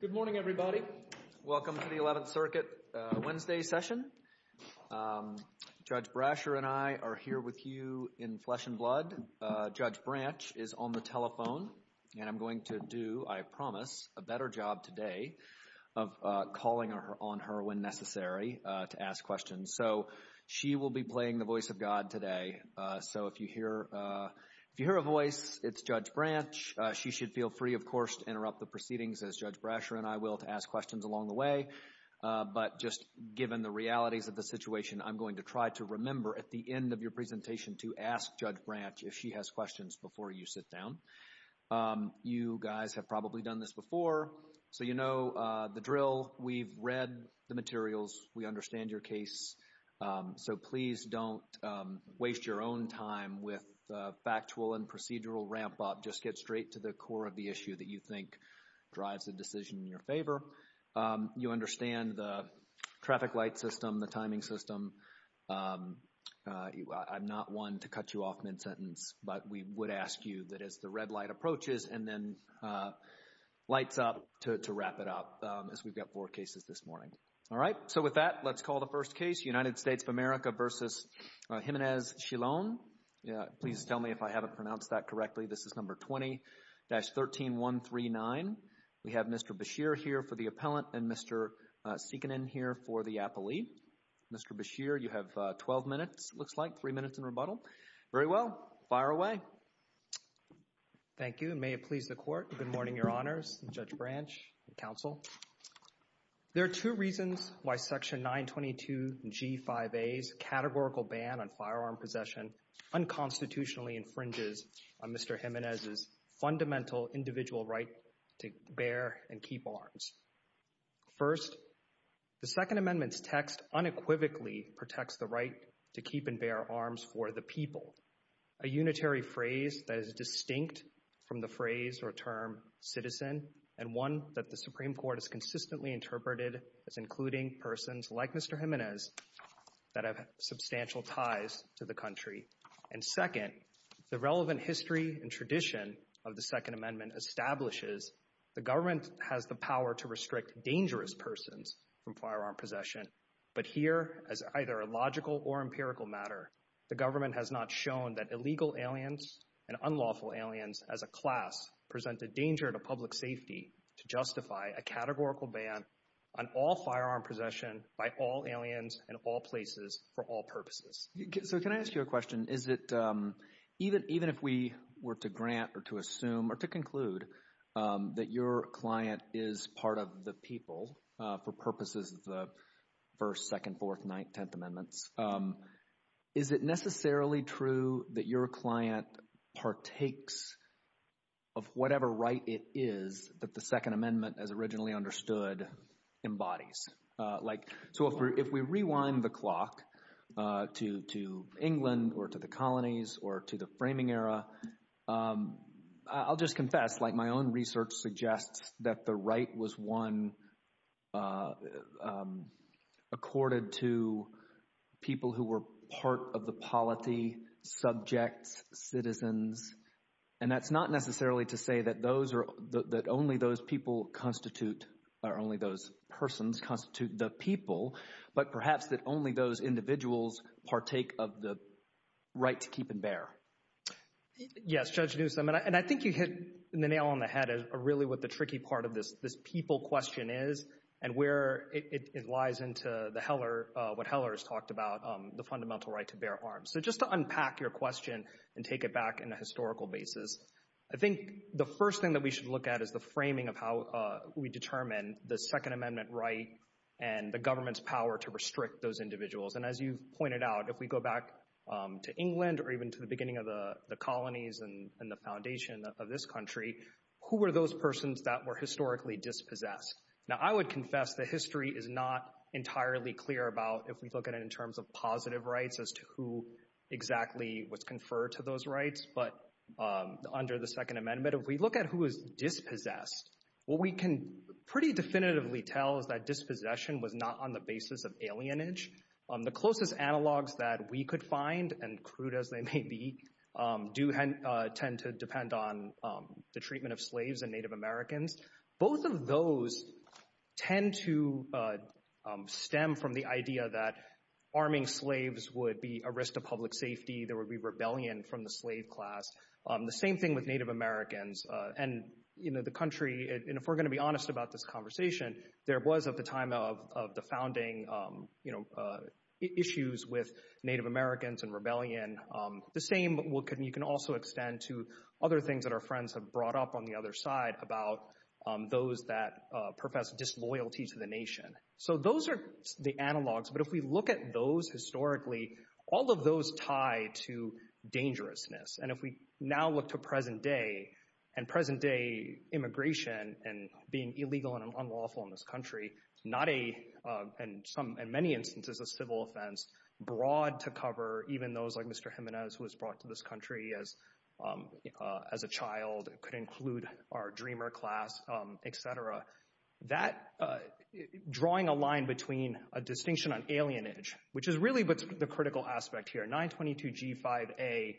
Good morning, everybody. Welcome to the 11th Circuit Wednesday session. Judge Brasher and I are here with you in flesh and blood. Judge Branch is on the telephone, and I'm going to do, I promise, a better job today of calling on her when necessary to ask questions. So she will be playing the voice of God today. So if you hear a voice, it's Judge Branch. She should feel free, of course, to interrupt the proceedings as Judge Brasher and I will to ask questions along the way. But just given the reality of the situation, I'm going to try to remember at the end of your presentation to ask Judge Branch if she has questions before you sit down. You guys have probably done this before, so you know the drill. We've read the materials. We understand your case. So please don't waste your own time with factual and procedural ramp-up. Just get straight to the core of the issue that you think drives the decision in your favor. You understand the traffic light system, the timing system. I'm not one to cut you off mid-sentence, but we would ask you that as the red light approaches and then lights up to wrap it up, as we've got four cases this morning. All right? So with that, let's call the first case, United States of America v. Jimenez-Shilon. Please tell me if I haven't pronounced that correctly. This is number 20-13139. We have Mr. Beshear here for the appellant and Mr. Seekanen here for the appellee. Mr. Beshear, you have 12 minutes, it looks like, three minutes in rebuttal. Very well. Fire away. Thank you, and may it please the Court. Good morning, Your Honors, and Judge Branch, and counsel. There are two reasons why Section 922G5A's categorical ban on firearm possession unconstitutionally infringes on Mr. Jimenez's fundamental individual right to bear and keep arms. First, the Second Amendment's text unequivocally protects the right to keep and bear arms for the people, a unitary phrase that is distinct from the phrase or term citizen and one that the Supreme Court has consistently interpreted as including persons like Mr. Jimenez that have substantial ties to the country. And second, the relevant history and tradition of the Second Amendment establishes the government has the power to restrict dangerous persons from firearm possession, but here, as either a logical or empirical matter, the government has not shown that illegal aliens and unlawful aliens as a class present a danger to public safety to justify a categorical ban on all firearm possession by all aliens in all places for all purposes. So can I ask you a question? Is it, even if we were to grant or to assume or to conclude that your client is part of the people for purposes of the First, Second, Fourth, Ninth, Tenth Amendments, is it necessarily true that your is that the Second Amendment as originally understood embodies? So if we rewind the clock to England or to the colonies or to the framing era, I'll just confess, like my own research suggests that the right was won accorded to people who were part of the polity, subjects, citizens, and that's not necessarily to say that only those people constitute or only those persons constitute the people, but perhaps that only those individuals partake of the right to keep and bear. Yes, Judge Newsom, and I think you hit the nail on the head of really what the tricky part of this people question is and where it lies into what Heller talked about the fundamental right to bear arms. So just to unpack your question and take it back in a historical basis, I think the first thing that we should look at is the framing of how we determine the Second Amendment right and the government's power to restrict those individuals. And as you pointed out, if we go back to England or even to the beginning of the colonies and the foundation of this country, who were those persons that were historically dispossessed? Now, I would confess the history is not entirely clear about if we look at it in terms of positive rights as to who exactly was conferred to those rights, but under the Second Amendment, if we look at who is dispossessed, what we can pretty definitively tell is that dispossession was not on the basis of alienage. The closest analogs that we could find, and crude as they may be, do tend to depend on the treatment of slaves and Native Americans. Both of those tend to stem from the idea that arming slaves would be a risk to public safety. There would be rebellion from the slave class. The same thing with Native Americans and the country. And if we're going to be honest about this conversation, there was at the time of the founding issues with Native Americans and rebellion. The same, you can also extend to other things that our friends have brought up on the other side about those that profess disloyalty to the nation. So those are the analogs. But if we look at those historically, all of those tie to dangerousness. And if we now look to present day and present day immigration and being illegal and unlawful in this country, not a, in many instances, a civil offense, broad to cover, even those like Mr. Jimenez, who was brought to this country as a child, could include our dreamer class, etc. That drawing a line between a distinction on alienage, which is really the critical aspect here, 922 G5A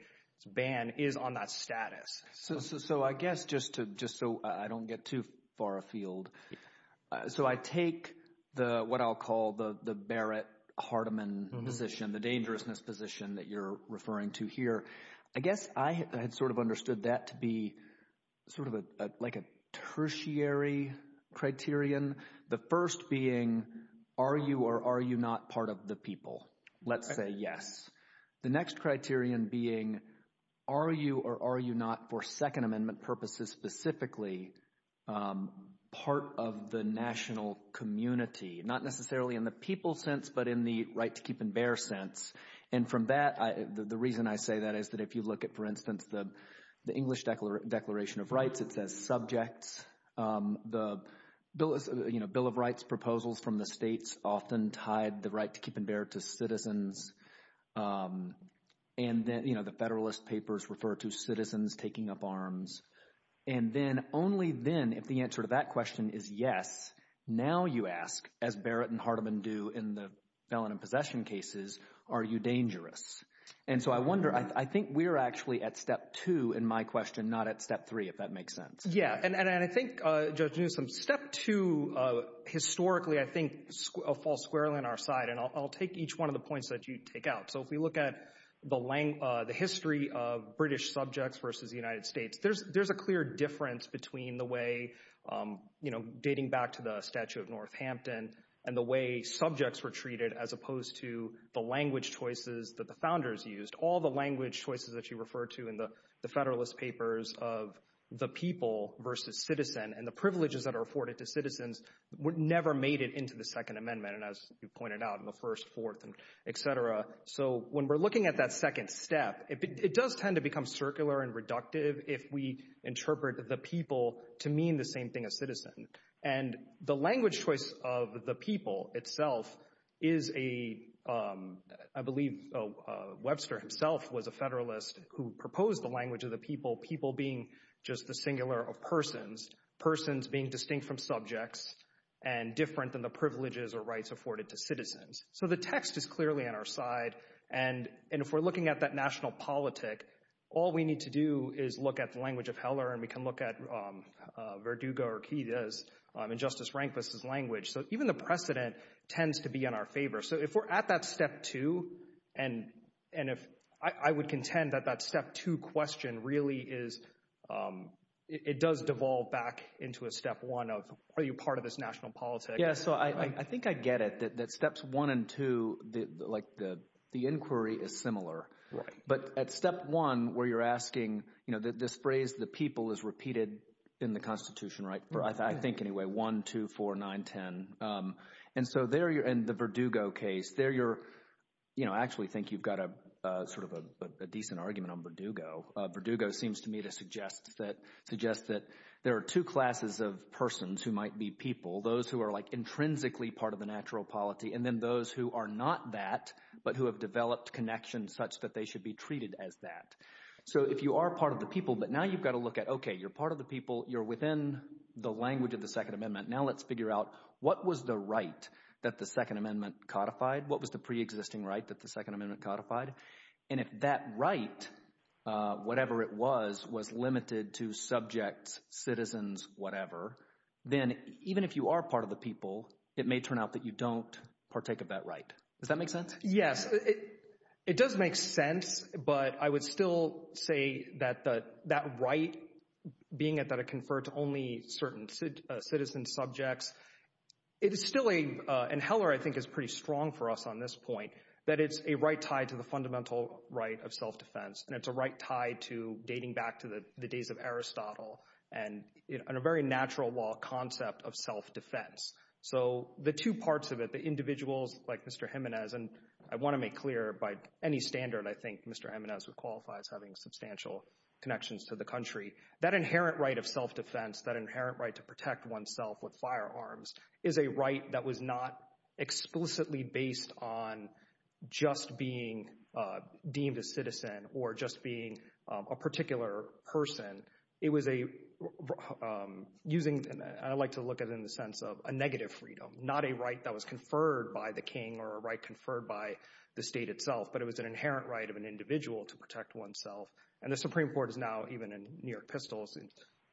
ban is on that status. So I guess just so I don't get too far afield, so I take the what I'll call the Barrett-Harteman position, the dangerousness position that you're referring to here. I guess I had sort of understood that to be sort of like a tertiary criterion. The first being, are you or are you not part of the people? Let's say yes. The next of the national community, not necessarily in the people sense, but in the right to keep and bear sense. And from that, the reason I say that is that if you look at, for instance, the English Declaration of Rights, it says subjects, the Bill of Rights proposals from the states often tied the right to keep and bear to citizens. And then the Federalist Papers refer to citizens taking up arms. And then only then, if the answer to that question is yes, now you ask, as Barrett and Harteman do in the felon and possession cases, are you dangerous? And so I wonder, I think we're actually at step two in my question, not at step three, if that makes sense. Yeah. And I think, Judge Newsom, step two, historically, I think, falls squarely on our side. And I'll take each one of the points that you take out. So if we look at the history of British subjects versus the United States, there's a clear difference between the way, you know, dating back to the Statue of Northampton and the way subjects were treated as opposed to the language choices that the founders used. All the language choices that you refer to in the Federalist Papers of the people versus citizen and the privileges that are afforded to citizens never made it into the Second Amendment, as you pointed out, in the that second step, it does tend to become circular and reductive if we interpret the people to mean the same thing as citizen. And the language choice of the people itself is a, I believe, Webster himself was a Federalist who proposed the language of the people, people being just the singular of persons, persons being distinct from subjects and different than the And if we're looking at that national politic, all we need to do is look at the language of Heller and we can look at Verdugo or Keyes and Justice Rehnquist's language. So even the precedent tends to be in our favor. So if we're at that step two, and if I would contend that that step two question really is, it does devolve back into a step one of, are you part of this national Yeah, so I think I get it, that steps one and two, like the inquiry is similar. But at step one, where you're asking, you know, this phrase, the people is repeated in the Constitution, right? I think anyway, one, two, four, nine, 10. And so there you're in the Verdugo case there, you're, you know, actually think you've got a sort of a decent argument on Verdugo. Verdugo seems to me to suggest that there are two classes of persons who might be people, those who are like intrinsically part of the natural polity, and then those who are not that, but who have developed connections such that they should be treated as that. So if you are part of the people, but now you've got to look at, okay, you're part of the people, you're within the language of the Second Amendment. Now let's figure out what was the right that the Second Amendment codified? What was the pre-existing right that the Second Amendment codified? And if that right, whatever it was, was limited to subjects, citizens, whatever, then even if you are part of the people, it may turn out that you don't partake of that right. Does that make sense? Yes, it does make sense. But I would still say that that right, being it that it conferred to only certain citizen subjects, it's still a, and Heller, I think, is pretty strong for us on this point, that it's a right tied to the fundamental right of self-defense. And it's a right tied to the days of Aristotle and a very natural law concept of self-defense. So the two parts of it, the individuals like Mr. Jimenez, and I want to make clear by any standard, I think Mr. Jimenez would qualify as having substantial connections to the country, that inherent right of self-defense, that inherent right to protect oneself with firearms is a right that was not explicitly based on just being deemed a citizen or just being a particular person. It was a, I like to look at it in the sense of a negative freedom, not a right that was conferred by the king or a right conferred by the state itself, but it was an inherent right of an individual to protect oneself. And the Supreme Court is now, even in New York pistols,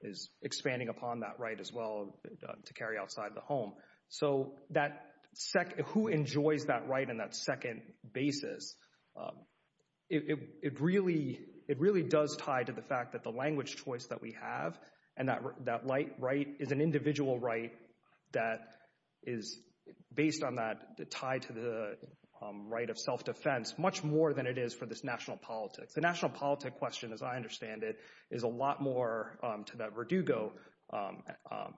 is expanding upon that as well to carry outside the home. So who enjoys that right in that second basis? It really does tie to the fact that the language choice that we have, and that right is an individual right that is based on that, tied to the right of self-defense, much more than it is for this national politics. The national politics question, as I understand it, is a lot more to Verdugo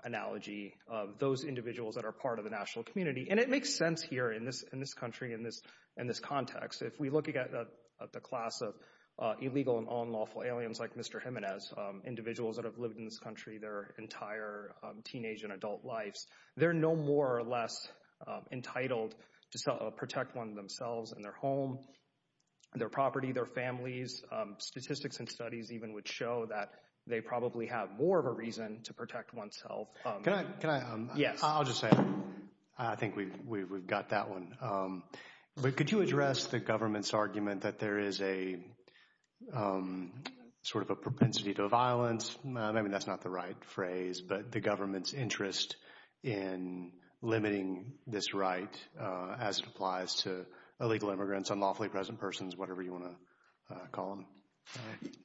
analogy of those individuals that are part of the national community. And it makes sense here in this country, in this context. If we look at the class of illegal and unlawful aliens like Mr. Jimenez, individuals that have lived in this country their entire teenage and adult lives, they're no more or less entitled to protect one themselves and their home, their property, their families. Statistics and studies even would show that they probably have more of a reason to protect oneself. I'll just say, I think we've got that one. But could you address the government's argument that there is a sort of a propensity to violence? I mean, that's not the right phrase, but the government's interest in limiting this right as it applies to illegal immigrants, unlawfully present persons, whatever you want to call them.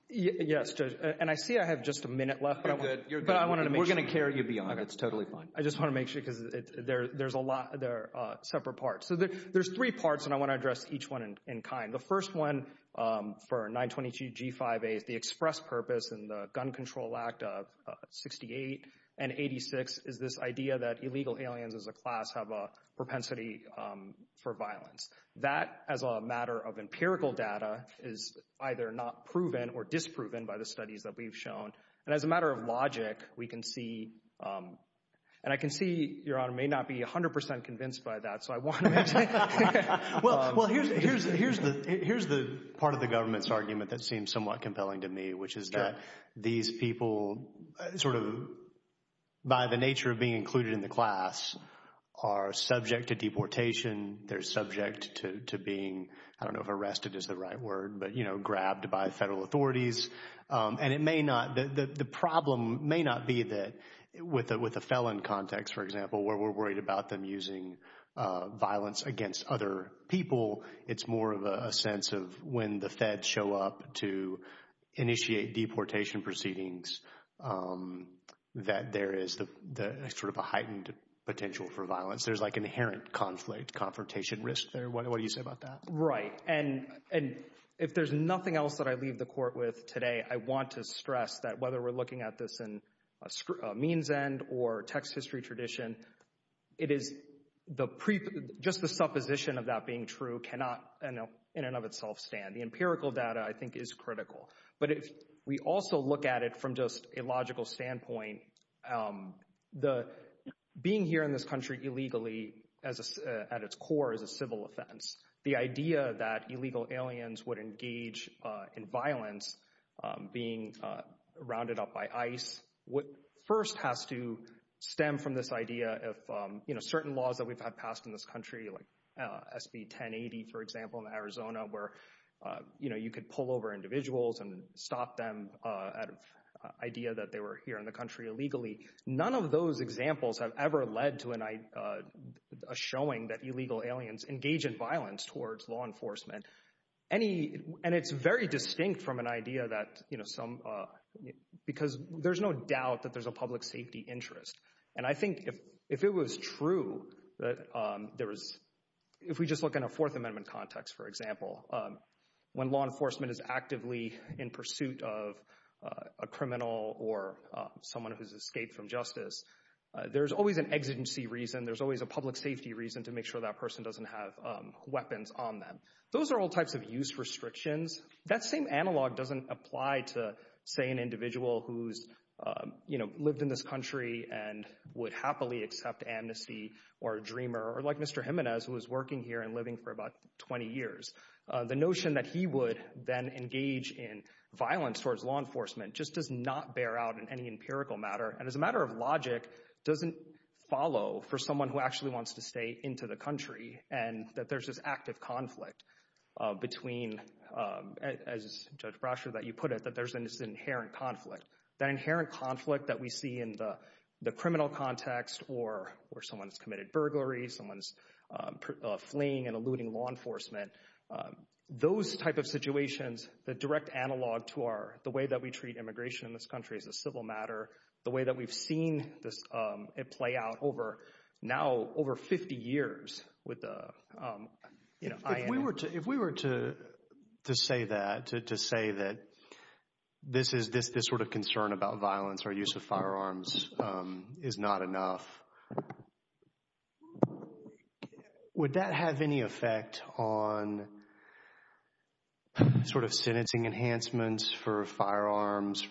Yes, and I see I have just a minute left. We're going to carry you beyond. It's totally fine. I just want to make sure, because there's a lot, there are separate parts. So there's three parts, and I want to address each one in kind. The first one for 922 G5A, the express purpose in the Gun Control Act of 68 and 86 is this idea that illegal aliens as a class have a propensity for violence. That as a matter of empirical data is either not proven or disproven by the studies that we've shown. And as a matter of logic, we can see, and I can see Your Honor may not be 100% convinced by that. So I want to- Well, here's the part of the government's argument that seems somewhat compelling to me, which is that these people sort of by the nature of being included in the class are subject to deportation. They're subject to being, I don't know if arrested is the right word, but grabbed by federal authorities. And it may not, the problem may not be that with a felon context, for example, where we're worried about them using violence against other people. It's more of a sense of when the feds show up to initiate deportation proceedings that there is sort of a heightened potential for violence. There's like inherent conflict, confrontation risk there. What do you say about that? Right. And if there's nothing else that I leave the court with today, I want to stress that whether we're looking at this in a means end or text history tradition, just the supposition of that being true cannot in and of itself stand. The empirical data I think is critical. But if we also look at it from just a logical standpoint, being here in this country illegally at its core is a civil offense. The idea that illegal aliens would engage in violence being rounded up by ICE would first have to stem from this idea of certain laws that we've had passed in this country, like the 1080, for example, in Arizona, where you could pull over individuals and stop them at an idea that they were here in the country illegally. None of those examples have ever led to a showing that illegal aliens engage in violence towards law enforcement. And it's very distinct from an idea that some, because there's no doubt that there's a public safety interest. And I think if it was true that there was, if we just look in a Fourth Amendment context, for example, when law enforcement is actively in pursuit of a criminal or someone who's escaped from justice, there's always an exigency reason. There's always a public safety reason to make sure that person doesn't have weapons on them. Those are all types of use restrictions. That same and would happily accept amnesty or a dreamer, or like Mr. Jimenez, who was working here and living for about 20 years. The notion that he would then engage in violence towards law enforcement just does not bear out in any empirical matter. And as a matter of logic, doesn't follow for someone who actually wants to stay into the country and that there's this active conflict between, as Judge Brasher, that you put it, that there's an inherent conflict. That inherent conflict that we see in the criminal context, or someone's committed burglary, someone's fleeing and eluding law enforcement. Those type of situations, the direct analog to our, the way that we treat immigration in this country as a civil matter, the way that we've seen it play out over, now over 50 years. If we were to say that, to say that this is this, this sort of concern about violence or use of firearms is not enough. Would that have any effect on sort of sentencing enhancements for firearms,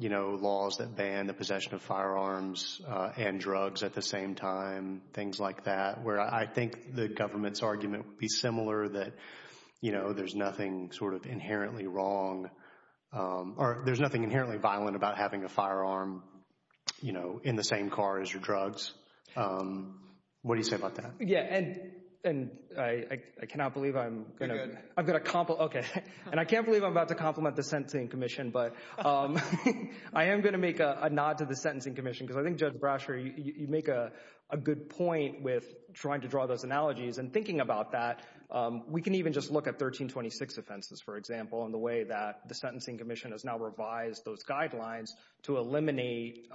you know, laws that ban the possession of firearms and drugs at the same time, things like that, where I think the government's argument would be similar that, you know, there's nothing sort of inherently wrong or there's nothing inherently violent about having a firearm, you know, in the same car as your drugs. What do you say about that? Yeah. And I cannot believe I'm going to, I've got a compliment. Okay. And I can't believe I'm about to compliment the Sentencing Commission, but I am going to make a nod to the Sentencing Commission because I think Judge Brasher, you make a good point with trying to draw those at 1326 offenses, for example, and the way that the Sentencing Commission has now revised those guidelines to eliminate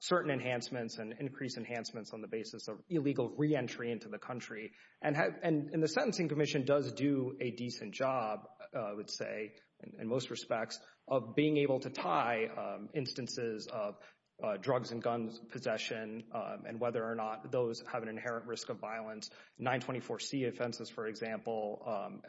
certain enhancements and increase enhancements on the basis of illegal re-entry into the country. And the Sentencing Commission does do a decent job, I would say, in most respects, of being able to tie instances of drugs and guns possession and whether or not those have an inherent risk of violence, 924C offenses, for example,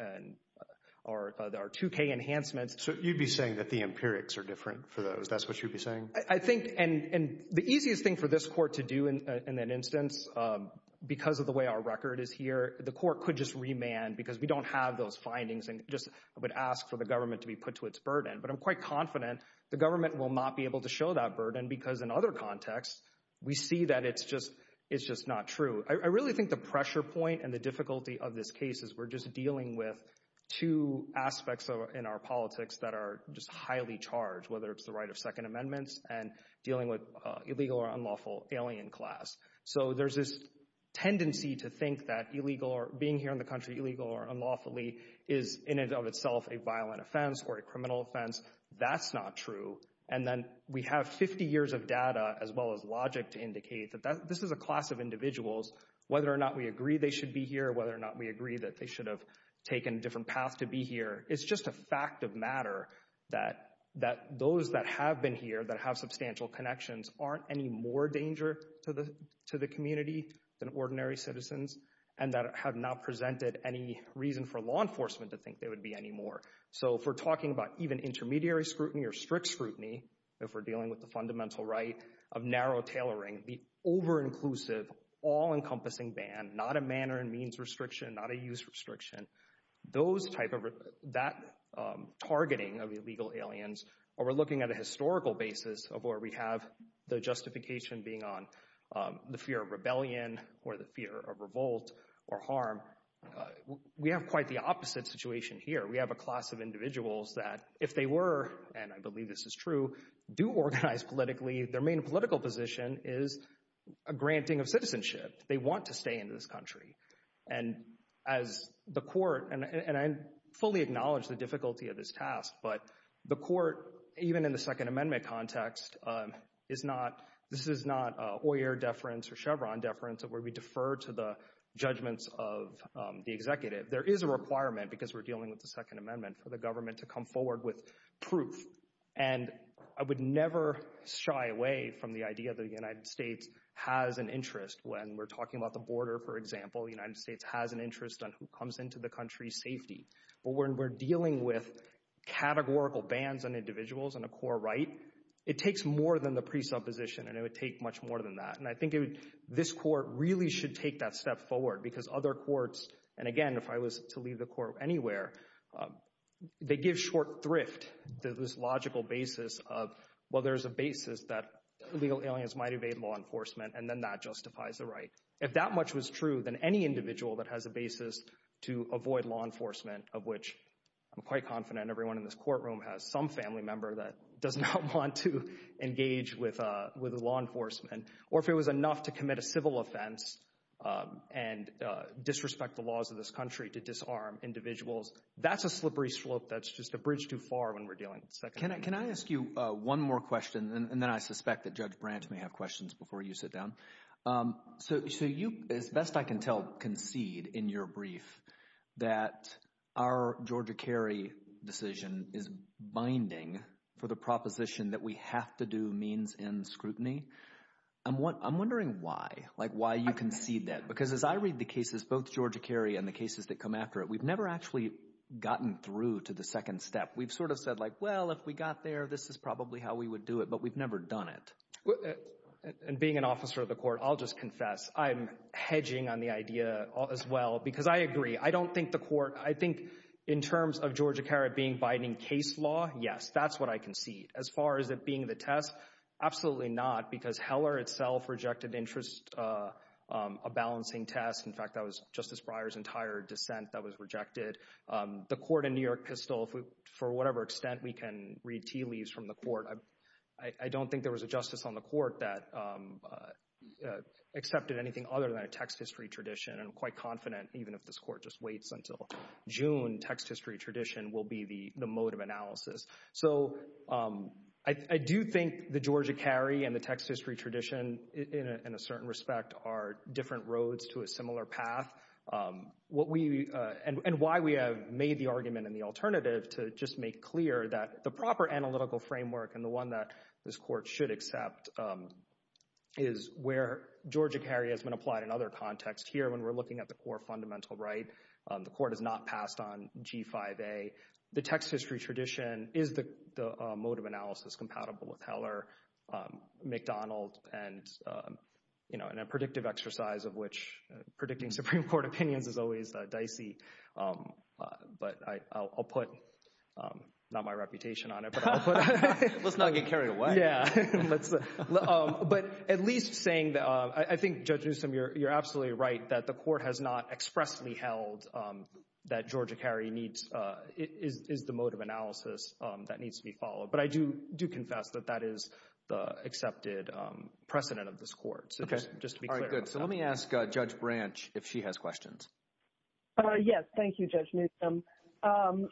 or there are 2K enhancements. So you'd be saying that the empirics are different for those, that's what you'd be saying? I think, and the easiest thing for this court to do in an instance, because of the way our record is here, the court could just remand because we don't have those findings and just would ask for the government to be put to its burden. But I'm quite confident the government will not be able to show that burden because in other contexts, we see that it's just not true. I really think the pressure point and the difficulty of this case is we're just dealing with two aspects in our politics that are just highly charged, whether it's the right of Second Amendment and dealing with illegal or unlawful alien class. So there's this tendency to think that being here in the country illegal or unlawfully is in and of itself a violent offense or a criminal offense. That's not true. And then we have 50 years of data as well as logic to indicate that this is a class of individuals, whether or not we agree they should be here, whether or not we agree that they should have taken a different path to be here. It's just a fact of matter that those that have been here that have substantial connections aren't any more danger to the community than ordinary citizens, and that have not presented any reason for law enforcement to think they would be anymore. So if we're talking about intermediary scrutiny or strict scrutiny, if we're dealing with the fundamental right of narrow tailoring, the over-inclusive, all-encompassing ban, not a manner and means restriction, not a use restriction, that targeting of illegal aliens, or we're looking at a historical basis of where we have the justification being on the fear of rebellion or the fear of revolt or harm, we have quite the opposite situation here. We have a class of individuals that, if they were, and I believe this is true, do organize politically, their main political position is a granting of citizenship. They want to stay in this country. And as the court, and I fully acknowledge the difficulty of this task, but the court, even in the Second Amendment context, is not, this is not a Hoyer deference or Chevron deference where we defer to the judgments of the executive. There is a requirement, because we're dealing with the Second Amendment, for the government to come forward with proof. And I would never shy away from the idea that the United States has an interest when we're talking about the border, for example, the United States has an interest on who comes into the country's safety. But when we're dealing with categorical bans on more than the presupposition, and it would take much more than that. And I think this court really should take that step forward, because other courts, and again, if I was to leave the court anywhere, they give short thrift to this logical basis of, well, there's a basis that illegal aliens might evade law enforcement, and then that justifies the right. If that much was true, then any individual that has a basis to avoid law enforcement, of which I'm quite confident everyone in this courtroom has some family member that does not want to engage with law enforcement, or if it was enough to commit a civil offense and disrespect the laws of this country to disarm individuals, that's a slippery slope, that's just a bridge too far when we're dealing. Can I ask you one more question, and then I suspect that Judge Branch may have questions before you sit down. So you, as best I can tell, concede in your brief that our Georgia Cary decision is binding for the proposition that we have to do means end scrutiny. I'm wondering why, like why you concede that, because as I read the cases, both Georgia Cary and the cases that come after it, we've never actually gotten through to the second step. We've sort of said like, well, if we got there, this is probably how we would do it, but we've never done it. And being an officer of the court, I'll just confess, I'm hedging on the idea as well, because I agree. I don't think the court, I think in terms of Georgia Cary being binding case law, yes, that's what I concede. As far as it being the test, absolutely not, because Heller itself rejected interest, a balancing test. In fact, that was Justice Breyer's entire dissent that was rejected. The court in New York has still, for whatever extent we can read tea leaves from the court, I don't think there was a justice on the court that accepted anything other than a text history tradition. I'm quite confident, even if this court just waits until June, text history tradition will be the mode of analysis. So I do think the Georgia Cary and the text history tradition in a certain respect are different roads to a similar path. What we, and why we have made the argument in the alternative to just make clear that the proper analytical framework and the one that this court should accept is where Georgia Cary has been applied in other contexts. Here, when we're looking at the core fundamental right, the court has not passed on G5A. The text history tradition is the mode of analysis compatible with Heller, McDonald, and in a predictive exercise of which predicting Supreme Court opinions is always dicey, but I'll put, not my reputation on it, but I'll put. Let's not get carried away. Yeah. Let's, but at least saying that, I think Judge Newsom, you're absolutely right that the court has not expressly held that Georgia Cary needs, is the mode of analysis that needs to be followed. But I do confess that that is the accepted precedent of this court. So just to be clear. All right, good. So let me ask Judge Branch if she has questions. Uh, yes. Thank you, Judge Newsom. Um,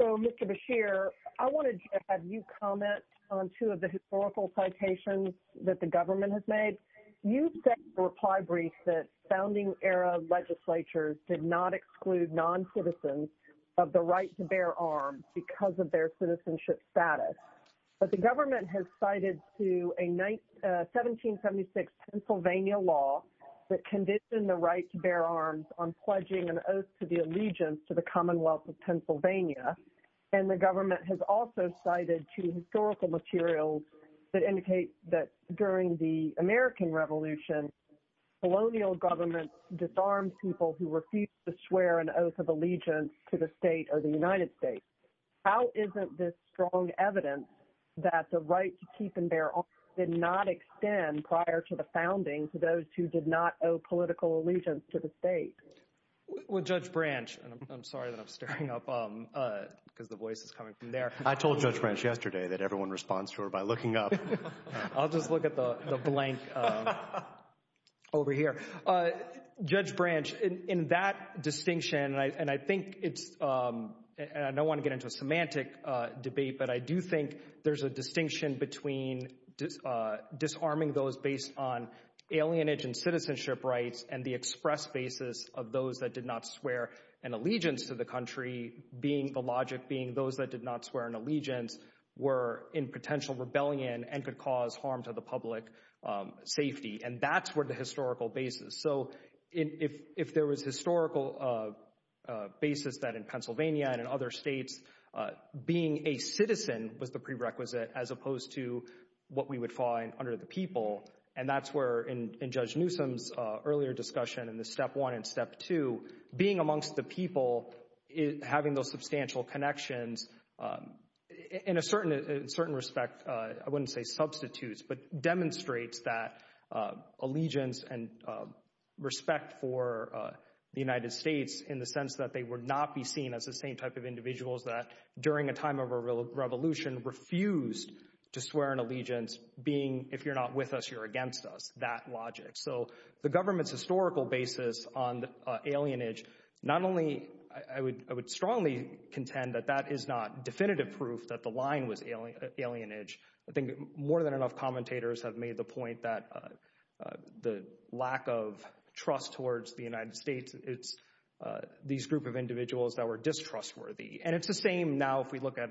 so Mr. Beshear, I wanted to have you comment on two of the historical citations that the government has made. You said in the reply brief that founding era legislatures did not exclude non-citizens of the right to bear arms because of their citizenship status. But the government has cited to a 1776 Pennsylvania law that conditioned the right to bear arms on pledging an oath to the allegiance to the Commonwealth of Pennsylvania. And the government has also cited two historical materials that indicate that during the American Revolution, colonial government disarmed people who refused to swear an oath of allegiance to the state or the United States. How isn't this strong evidence that the right to keep and bear arms did not extend prior to the founding to those who did not owe political allegiance to the state? Well, Judge Branch, and I'm sorry that I'm staring up because the voice is coming from there. I told Judge Branch yesterday that everyone responds to her by looking up. I'll just look at the blank over here. Uh, Judge Branch, in that distinction, and I think it's, and I don't want to get into a semantic debate, but I do think there's a distinction between disarming those based on alienage and citizenship rights and the express basis of those that did not swear an allegiance to the country being the logic being those that did not swear an allegiance were in potential rebellion and could cause harm to the public safety. And that's where the historical basis that in Pennsylvania and in other states, being a citizen was the prerequisite as opposed to what we would find under the people. And that's where in Judge Newsom's earlier discussion in the step one and step two, being amongst the people, having those substantial connections in a certain respect, I wouldn't say substitutes, but demonstrates that respect for the United States in the sense that they would not be seen as the same type of individuals that during a time of a real revolution refused to swear an allegiance being, if you're not with us, you're against us, that logic. So the government's historical basis on alienage, not only, I would strongly contend that that is not definitive proof that the line was alienage. I think more than enough commentators have made the point that the lack of trust towards the United States, it's these group of individuals that were distrustworthy. And it's the same now if we look at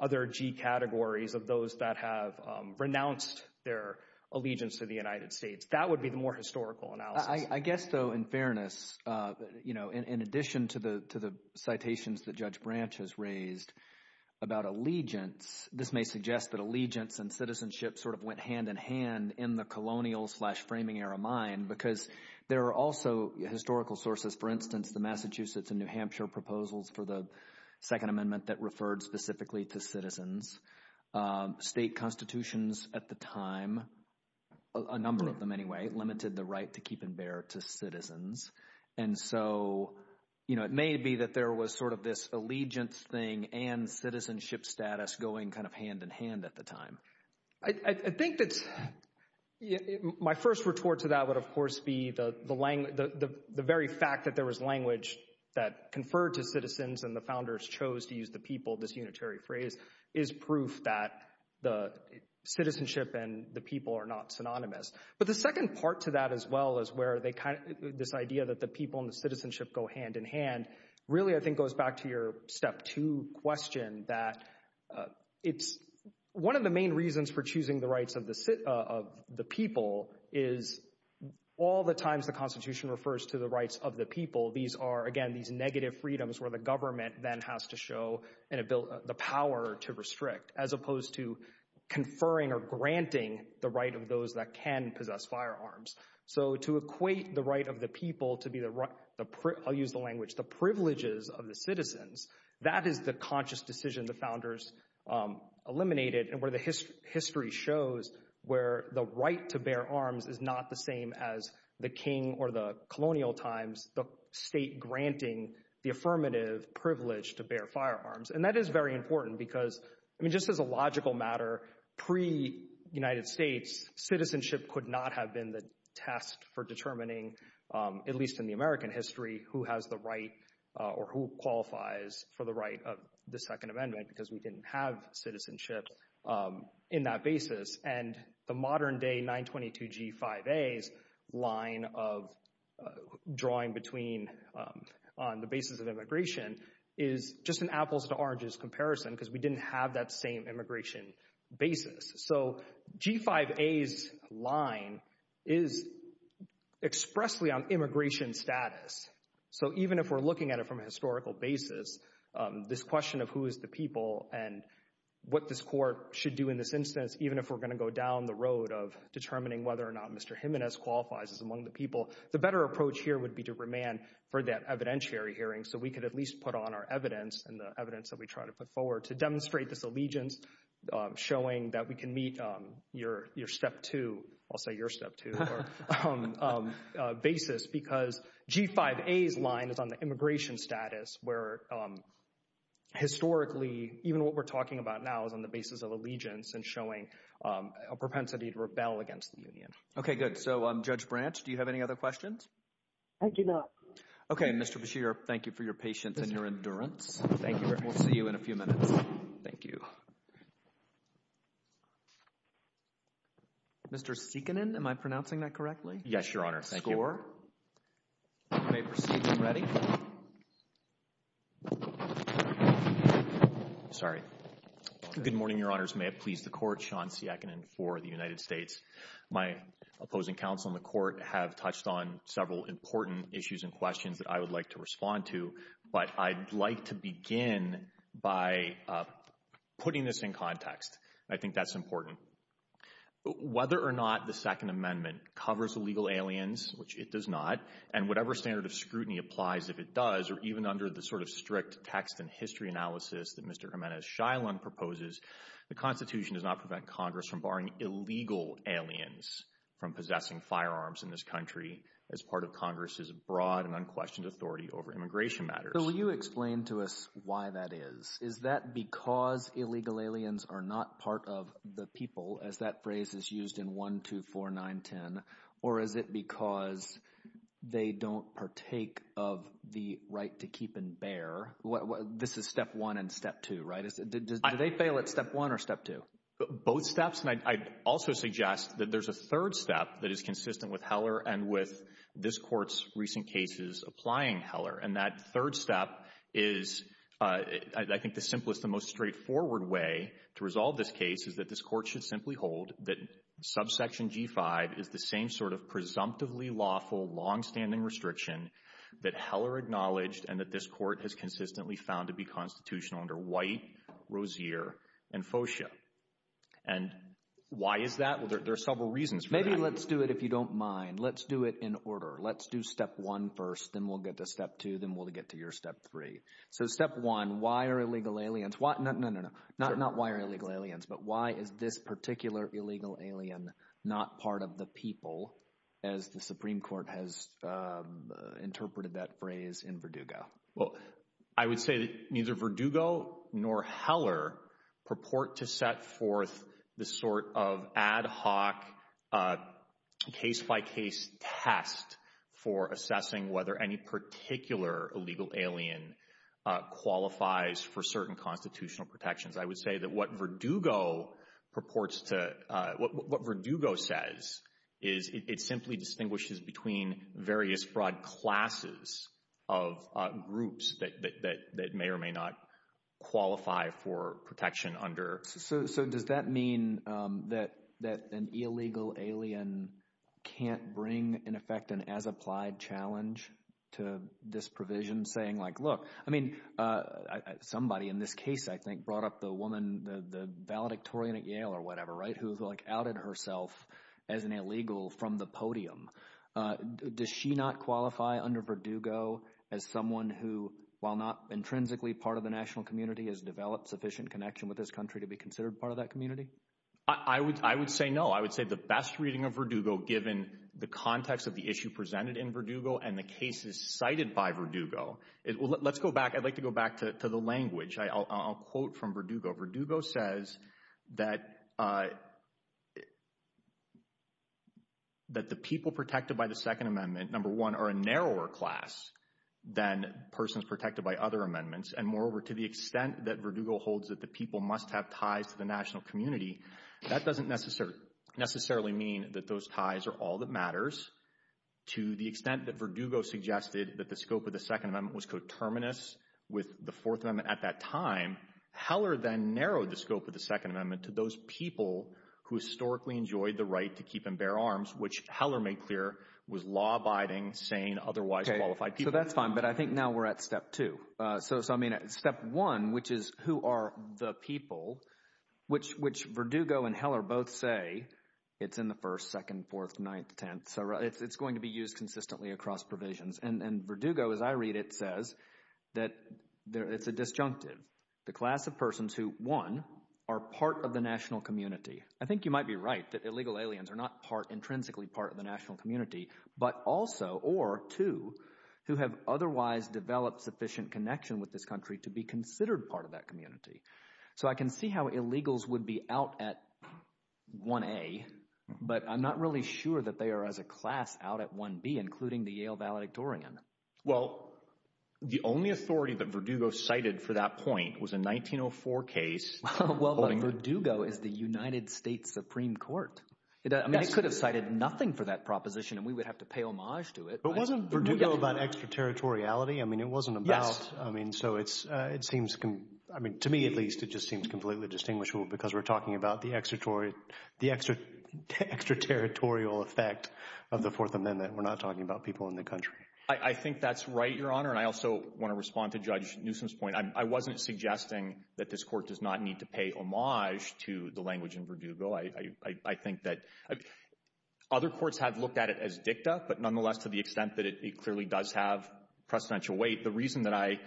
other G categories of those that have renounced their allegiance to the United States. That would be the more historical analysis. I guess, though, in fairness, in addition to the citations that Judge Branch has raised about allegiance, this may suggest that allegiance and citizenship sort of went hand in hand in the colonial slash framing era mind, because there are also historical sources, for instance, the Massachusetts and New Hampshire proposals for the Second Amendment that referred specifically to citizens, state constitutions at the time, a number of them anyway, limited the right to keep and bear to citizens. And so, you know, it may be that there was sort of this allegiance thing and citizenship status going kind of hand in hand at the time. I think that my first retort to that would, of course, be the very fact that there was language that conferred to citizens and the founders chose to citizenship and the people are not synonymous. But the second part to that as well as where they kind of this idea that the people and the citizenship go hand in hand, really, I think, goes back to your step two question that it's one of the main reasons for choosing the rights of the people is all the times the Constitution refers to the rights of the people. These are, again, these negative freedoms where the government then has to show the power to restrict as opposed to conferring or granting the right of those that can possess firearms. So, to equate the right of the people to be the right, I'll use the language, the privileges of the citizens, that is the conscious decision the founders eliminated and where the history shows where the right to bear arms is not the same as the king or the colonial times, the state granting the affirmative privilege to bear firearms. And that is very important because, I mean, just as a logical matter, pre-United States, citizenship could not have been the task for determining, at least in the American history, who has the right or who qualifies for the right of the Second Amendment because we didn't have citizenship in that basis. And the modern day 922G5A's line of drawing between on the basis of immigration is just an apples to oranges comparison because we didn't have that same immigration basis. So, G5A's line is expressly on immigration status. So, even if we're looking at it from a historical basis, this question of who is the people and what this court should do in this instance, even if we're going to go down the road of determining whether or not Mr. Jimenez qualifies as among the people, the better approach here would be to remand for that evidentiary hearing so we could at least put on our evidence and the evidence that we try to put forward to demonstrate this allegiance, showing that we can meet your step two, I'll say your step two basis because G5A's line is on the immigration status where historically, even what we're talking about now is on the basis of allegiance and showing a propensity to rebel against the union. Okay, good. So, Judge Branch, do you have any other questions? I do not. Okay, Mr. Beshear, thank you for your patience and your endurance. Thank you. We'll see you in a few minutes. Thank you. Mr. Siekinen, am I pronouncing that correctly? Yes, your honor. Thank you. Sorry. Good morning, your honors. May it please the court, Sean Siekinen for the United States. My opposing counsel in the court have touched on several important issues and questions that I would like to respond to, but I'd like to begin by putting this in context. I think that's important. Whether or not the Second Amendment covers illegal aliens, which it does not, and whatever standard of scrutiny applies, if it does, or even under the sort of strict text and history analysis that Mr. Jimenez Shiloh proposes, the Constitution does not prevent Congress from barring illegal aliens from possessing firearms in this country as part of Congress's broad and unquestioned authority over immigration matters. So, will you explain to us why that is? Is that because illegal aliens are not part of the people, as that phrase is used in 1, 2, 4, 9, 10, or is it because they don't partake of the right to keep and bear? This is step one and step two, right? Do they fail at step one or step two? Both steps, and I'd also suggest that there's a third step that is consistent with Heller and with this court's recent cases applying Heller, and that third step is, I think the simplest and most straightforward way to resolve this case is that this court should simply hold that subsection G5 is the same sort of presumptively lawful, long-standing restriction that Heller acknowledged and that this court has consistently found to be unconstitutional under White, Rozier, and Foscher. And why is that? There are several reasons. Maybe let's do it if you don't mind. Let's do it in order. Let's do step one first, then we'll get to step two, then we'll get to your step three. So, step one, why are illegal aliens – no, not why are illegal aliens, but why is this particular illegal alien not part of the people, as the Supreme Court has interpreted that phrase in Verdugo? Well, I would say that neither Verdugo nor Heller purport to set forth the sort of ad hoc case-by-case test for assessing whether any particular illegal alien qualifies for certain constitutional protections. I would say that what Verdugo purports to – what Verdugo says is it simply distinguishes between various broad classes of groups that may or may not qualify for protection under… So, does that mean that an illegal alien can't bring, in effect, an as-applied challenge to this provision, saying, like, look, I mean, somebody in this case, I think, brought up the woman, the valedictorian at Yale or whatever, who, like, outed herself as an illegal from the podium. Does she not qualify under Verdugo as someone who, while not intrinsically part of the national community, has developed sufficient connection with this country to be considered part of that community? I would say no. I would say the best reading of Verdugo, given the context of the issue presented in Verdugo and the cases cited by Verdugo – let's go back. I'd like to go back to the language. I'll quote from Verdugo. Verdugo says that the people protected by the Second Amendment, number one, are a narrower class than persons protected by other amendments. And moreover, to the extent that Verdugo holds that the people must have ties to the national community, that doesn't necessarily mean that those ties are all that matters. To the extent that Verdugo suggested that the scope of the narrowed the scope of the Second Amendment to those people who historically enjoyed the right to keep and bear arms, which Heller made clear was law-abiding, sane, otherwise qualified people. Okay. So that's fine. But I think now we're at step two. So, I mean, step one, which is who are the people, which Verdugo and Heller both say it's in the first, second, fourth, ninth, tenth. So it's going to be used consistently across provisions. And Verdugo, as I read it, says that it's a disjunctive. The class of persons who, one, are part of the national community. I think you might be right that illegal aliens are not intrinsically part of the national community. But also, or two, who have otherwise developed sufficient connection with this country to be considered part of that community. So I can see how illegals would be out at 1A, but I'm not really sure that they are as a class out at 1B, including the Yale valedictorian. Well, the only authority that Verdugo cited for that point was a 1904 case. Well, Verdugo is the United States Supreme Court. I mean, it could have cited nothing for that proposition, and we would have to pay homage to it. But wasn't Verdugo about extraterritoriality? I mean, it wasn't about, I mean, so it seems, I mean, to me, at least, it just seems completely indistinguishable because we're talking about the extraterritorial effect of the Fourth Amendment. We're not talking about people in the country. I think that's right, Your Honor. And I also want to respond to Judge Newsom's point. I wasn't suggesting that this court does not need to pay homage to the language in Verdugo. I think that other courts have looked at it as dicta, but nonetheless, to the extent that it clearly does have precedential weight, the reason that I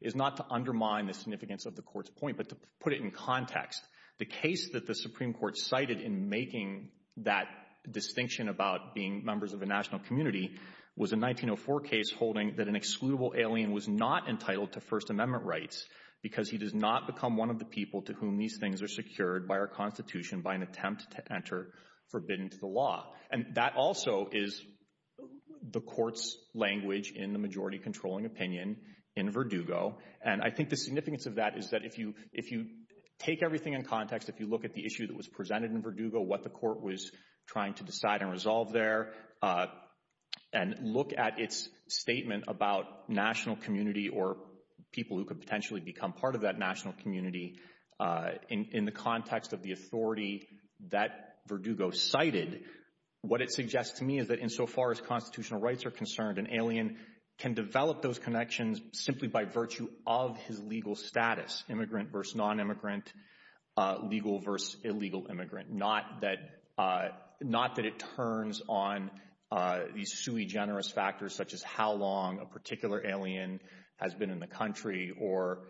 is not to undermine the significance of the court's point, but to put it in context. The case that the Supreme Court cited in making that distinction about being members of the national community was a 1904 case holding that an excludable alien was not entitled to First Amendment rights because he does not become one of the people to whom these things are secured by our Constitution by an attempt to enter forbidden to the law. And that also is the court's language in the majority controlling opinion in Verdugo. And I think the significance of that is that if you take everything in context, if you look at the issue that was presented in Verdugo, what the court was trying to decide and resolve there, and look at its statement about national community or people who could potentially become part of that national community in the context of the authority that Verdugo cited, what it suggests to me is that insofar as constitutional rights are can develop those connections simply by virtue of his legal status, immigrant versus non-immigrant, legal versus illegal immigrant, not that it turns on these sui generis factors such as how long a particular alien has been in the country or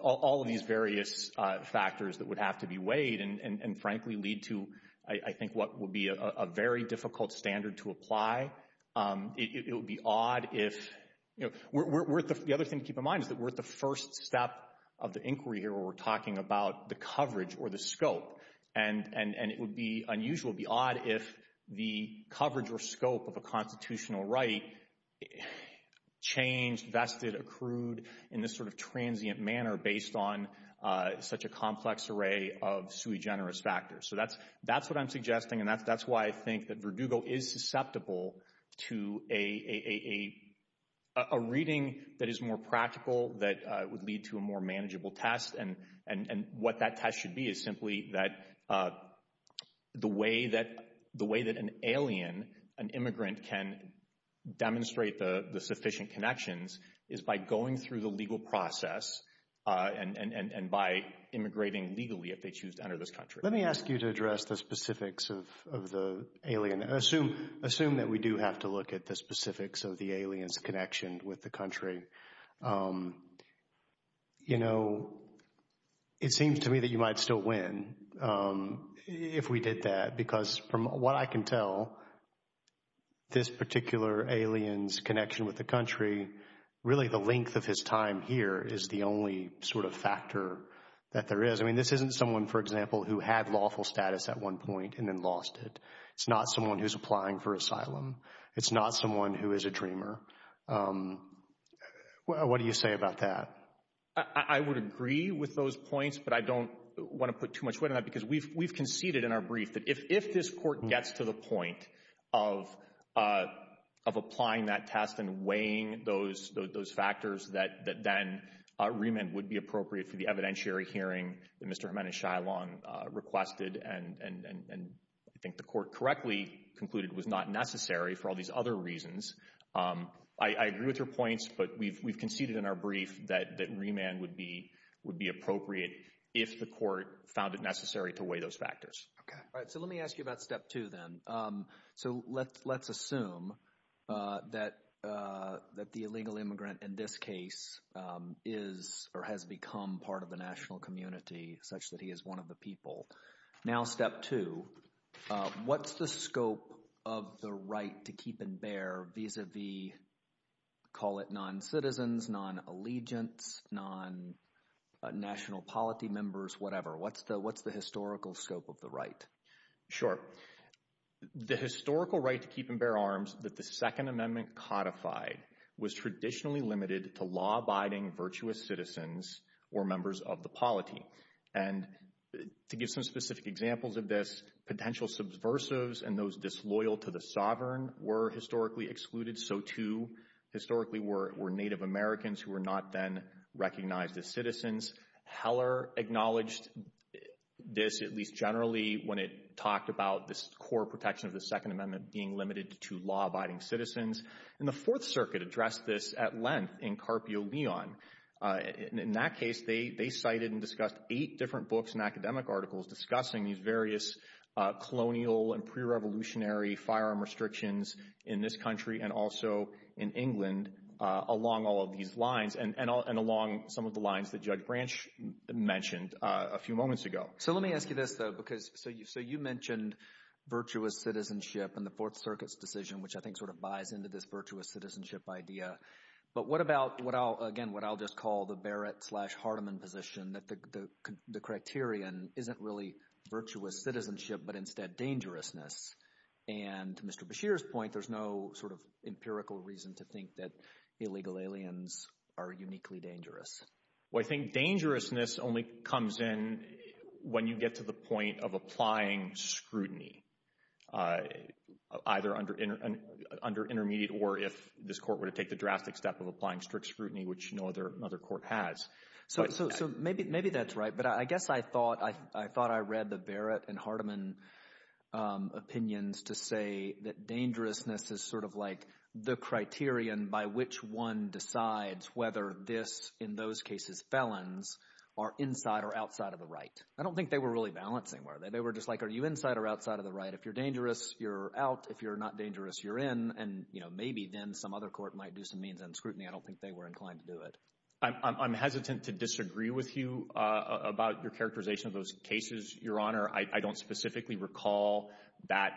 all of these various factors that would have to be weighed and frankly lead to I think what would be a very difficult standard to apply. It would be odd if, the other thing to keep in mind is that we're at the first step of the inquiry here where we're talking about the coverage or the scope. And it would be unusual, it would be odd if the coverage or scope of a constitutional right changed, vested, accrued in this sort of transient manner based on such a complex array of sui generis factors. So that's what I'm suggesting and that's why I think that Verdugo is susceptible to a reading that is more practical that would lead to a more manageable test. And what that test should be is simply that the way that an alien, an immigrant can demonstrate the sufficient connections is by going through the legal process and by immigrating legally if they choose to enter this country. Let me ask you to address the specifics of the alien. Assume that we do have to look at the specifics of the alien's connection with the country. You know, it seems to me that you might still win if we did that. Because from what I can tell, this particular alien's connection with the country, really the length of his time here is the only sort of factor that there is. I mean, this isn't someone, for example, who had lawful status at one point and then lost it. It's not someone who's applying for asylum. It's not someone who is a dreamer. What do you say about that? I would agree with those points, but I don't want to put too much weight on that because we've conceded in our brief that if this court gets to the point of applying that test and weighing those factors, that then remand would be appropriate for the evidentiary hearing that Mr. Jimenez-Shylon requested and I think the court correctly concluded was not necessary for all these other reasons. I agree with your points, but we've conceded in our brief that remand would be appropriate if the court found it necessary to weigh those factors. Okay. All right. So let me ask you about step two then. So let's assume that the illegal immigrant in this case is or has become part of the national community such that he is one of the people. Now step two, what's the scope of the right to keep and bear vis-a-vis, call it non-citizens, non-allegiance, non-national polity members, whatever? What's the historical scope of the right? Sure. The historical right to keep and bear arms that the Second Amendment codified was traditionally limited to law-abiding virtuous citizens or members of the polity. And to give some specific examples of this, potential subversives and those disloyal to the sovereign were historically excluded, so too historically were Native Americans who were not then recognized as citizens. Heller acknowledged this at least generally when it talked about this core protection of the Second Amendment. And the Fourth Circuit addressed this at length in Carpio Leon. In that case, they cited and discussed eight different books and academic articles discussing these various colonial and pre-revolutionary firearm restrictions in this country and also in England along all of these lines and along some of the lines that Judge Branch mentioned a few moments ago. So let me ask you this though, because so you mentioned virtuous citizenship and the Fourth buys into this virtuous citizenship idea. But what about, again, what I'll just call the Barrett slash Hardeman position that the criterion isn't really virtuous citizenship but instead dangerousness? And to Mr. Bashir's point, there's no sort of empirical reason to think that illegal aliens are uniquely dangerous. Well, I think dangerousness only comes in when you get to the intermediate or if this court were to take the drastic step of applying strict scrutiny, which no other court has. So maybe that's right. But I guess I thought I read the Barrett and Hardeman opinions to say that dangerousness is sort of like the criterion by which one decides whether this, in those cases felons, are inside or outside of the right. I don't think they were really balanced anywhere. They were just like, are you inside or outside of the right? If you're maybe, then some other court might do some means and scrutiny. I don't think they were inclined to do it. I'm hesitant to disagree with you about your characterization of those cases, Your Honor. I don't specifically recall that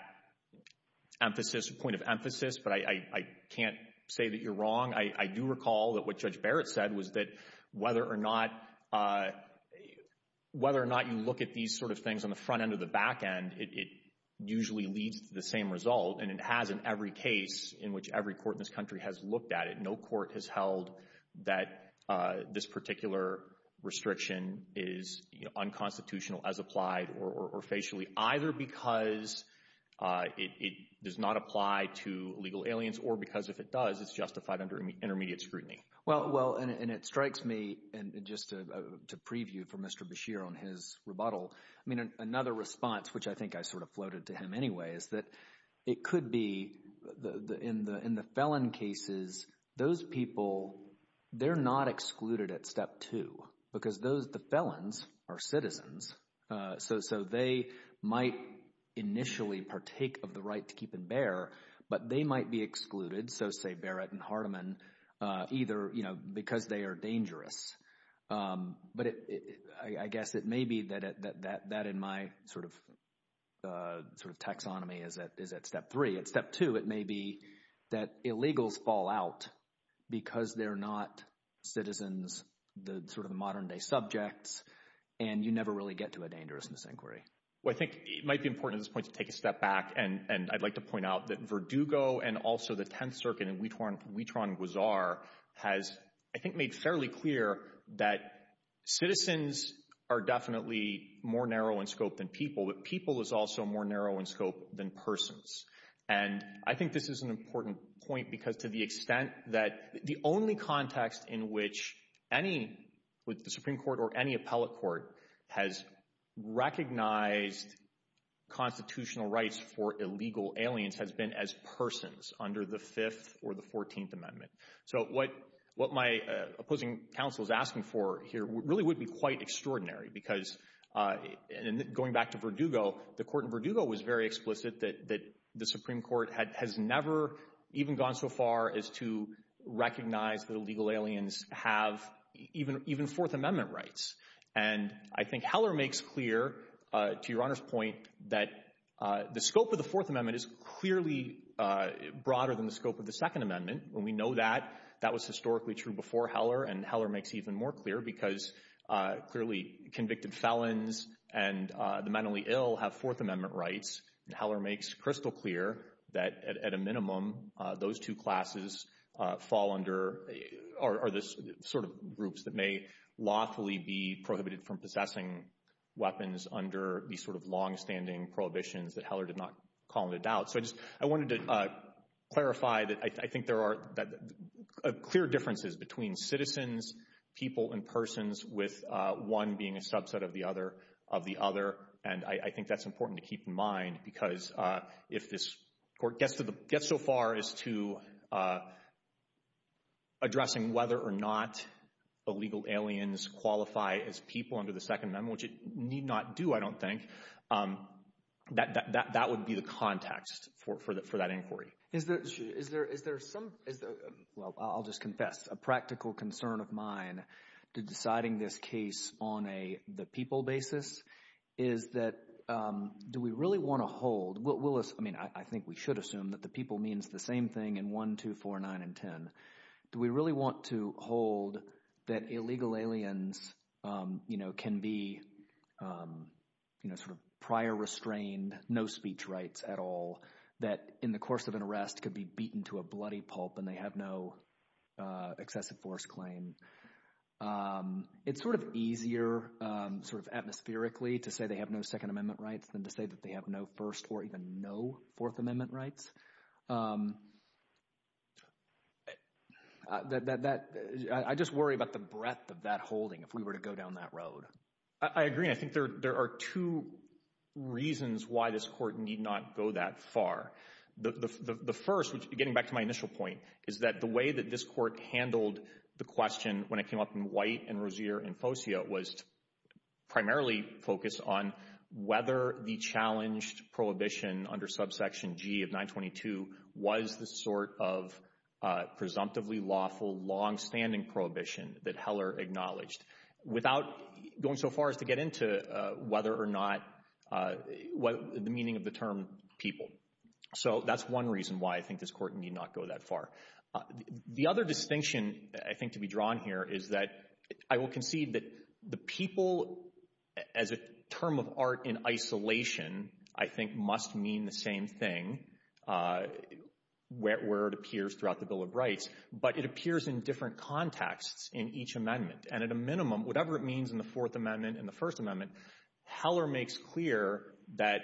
point of emphasis, but I can't say that you're wrong. I do recall that what Judge Barrett said was that whether or not you look at these sort of things on the front or the back end, it usually leads to the same result, and it has in every case in which every court in this country has looked at it. No court has held that this particular restriction is unconstitutional as applied or facially, either because it does not apply to illegal aliens, or because if it does, it's justified under intermediate scrutiny. And it strikes me, just to preview for Mr. Bashir on his rebuttal, another response, which I think I sort of floated to him anyway, is that it could be in the felon cases, those people, they're not excluded at step two, because the felons are citizens. So they might initially partake of the right to keep and bear, but they might be excluded, so say Barrett and Hardiman, either because they are dangerous. But I guess it may be that in my sort of taxonomy is at step three. At step two, it may be that illegals fall out because they're not citizens, the sort of modern-day subjects, and you never really get to a dangerousness inquiry. Well, I think it might be important at this point to take a step back, and I'd like to point out that Verdugo and also the has, I think, made fairly clear that citizens are definitely more narrow in scope than people, but people is also more narrow in scope than persons. And I think this is an important point, because to the extent that the only context in which any with the Supreme Court or any appellate court has recognized constitutional rights for illegal aliens has been as persons under the 5th or the 14th Amendment. So what my opposing counsel is asking for here really would be quite extraordinary, because going back to Verdugo, the court in Verdugo was very explicit that the Supreme Court has never even gone so far as to recognize that illegal aliens have even 4th Amendment rights. And I think Heller makes clear, to your Honor's point, that the scope of the 4th Amendment, when we know that, that was historically true before Heller, and Heller makes it even more clear, because clearly convicted felons and the mentally ill have 4th Amendment rights. And Heller makes crystal clear that, at a minimum, those two classes fall under, are the sort of groups that may lawfully be prohibited from possessing weapons under these sort of long-standing prohibitions that Heller did not call into doubt. So I just, I wanted to clarify that I think there are clear differences between citizens, people, and persons with one being a subset of the other, and I think that's important to keep in mind, because if this court gets to the, gets so far as to addressing whether or not illegal aliens qualify as people under the 2nd Amendment, which it need not do, I don't think, that would be the Is there, is there, is there some, well, I'll just confess, a practical concern of mine to deciding this case on a, the people basis, is that, do we really want to hold, what will us, I mean, I think we should assume that the people means the same thing in 1, 2, 4, 9, and 10. Do we really want to hold that illegal aliens can be sort of prior restrained, no speech rights at all, that in the course of an arrest could be beaten to a bloody pulp and they have no excessive force claim? It's sort of easier sort of atmospherically to say they have no 2nd Amendment rights than to say that they have no 1st or even no 4th Amendment rights. That, that, I just worry about the breadth of that holding if we were to go down that road. I agree. I think there, there are two reasons why this court need not go that far. The, the, the first, which is getting back to my initial point, is that the way that this court handled the question when it came up in White and Rozier and Fosio was primarily focused on whether the challenged prohibition under subsection G of 922 was the sort of presumptively lawful long-standing prohibition that Heller acknowledged without going so far as to get into whether or not, what the meaning of the term people. So that's one reason why I think this court need not go that far. The other distinction I think to be drawn here is that I will concede that the people as a term of art in isolation, I think must mean the same thing where, where it appears throughout the Bill of Rights, but it appears in different contexts in each amendment. And at a minimum, whatever it means in the 4th Amendment and the 1st Amendment, Heller makes clear that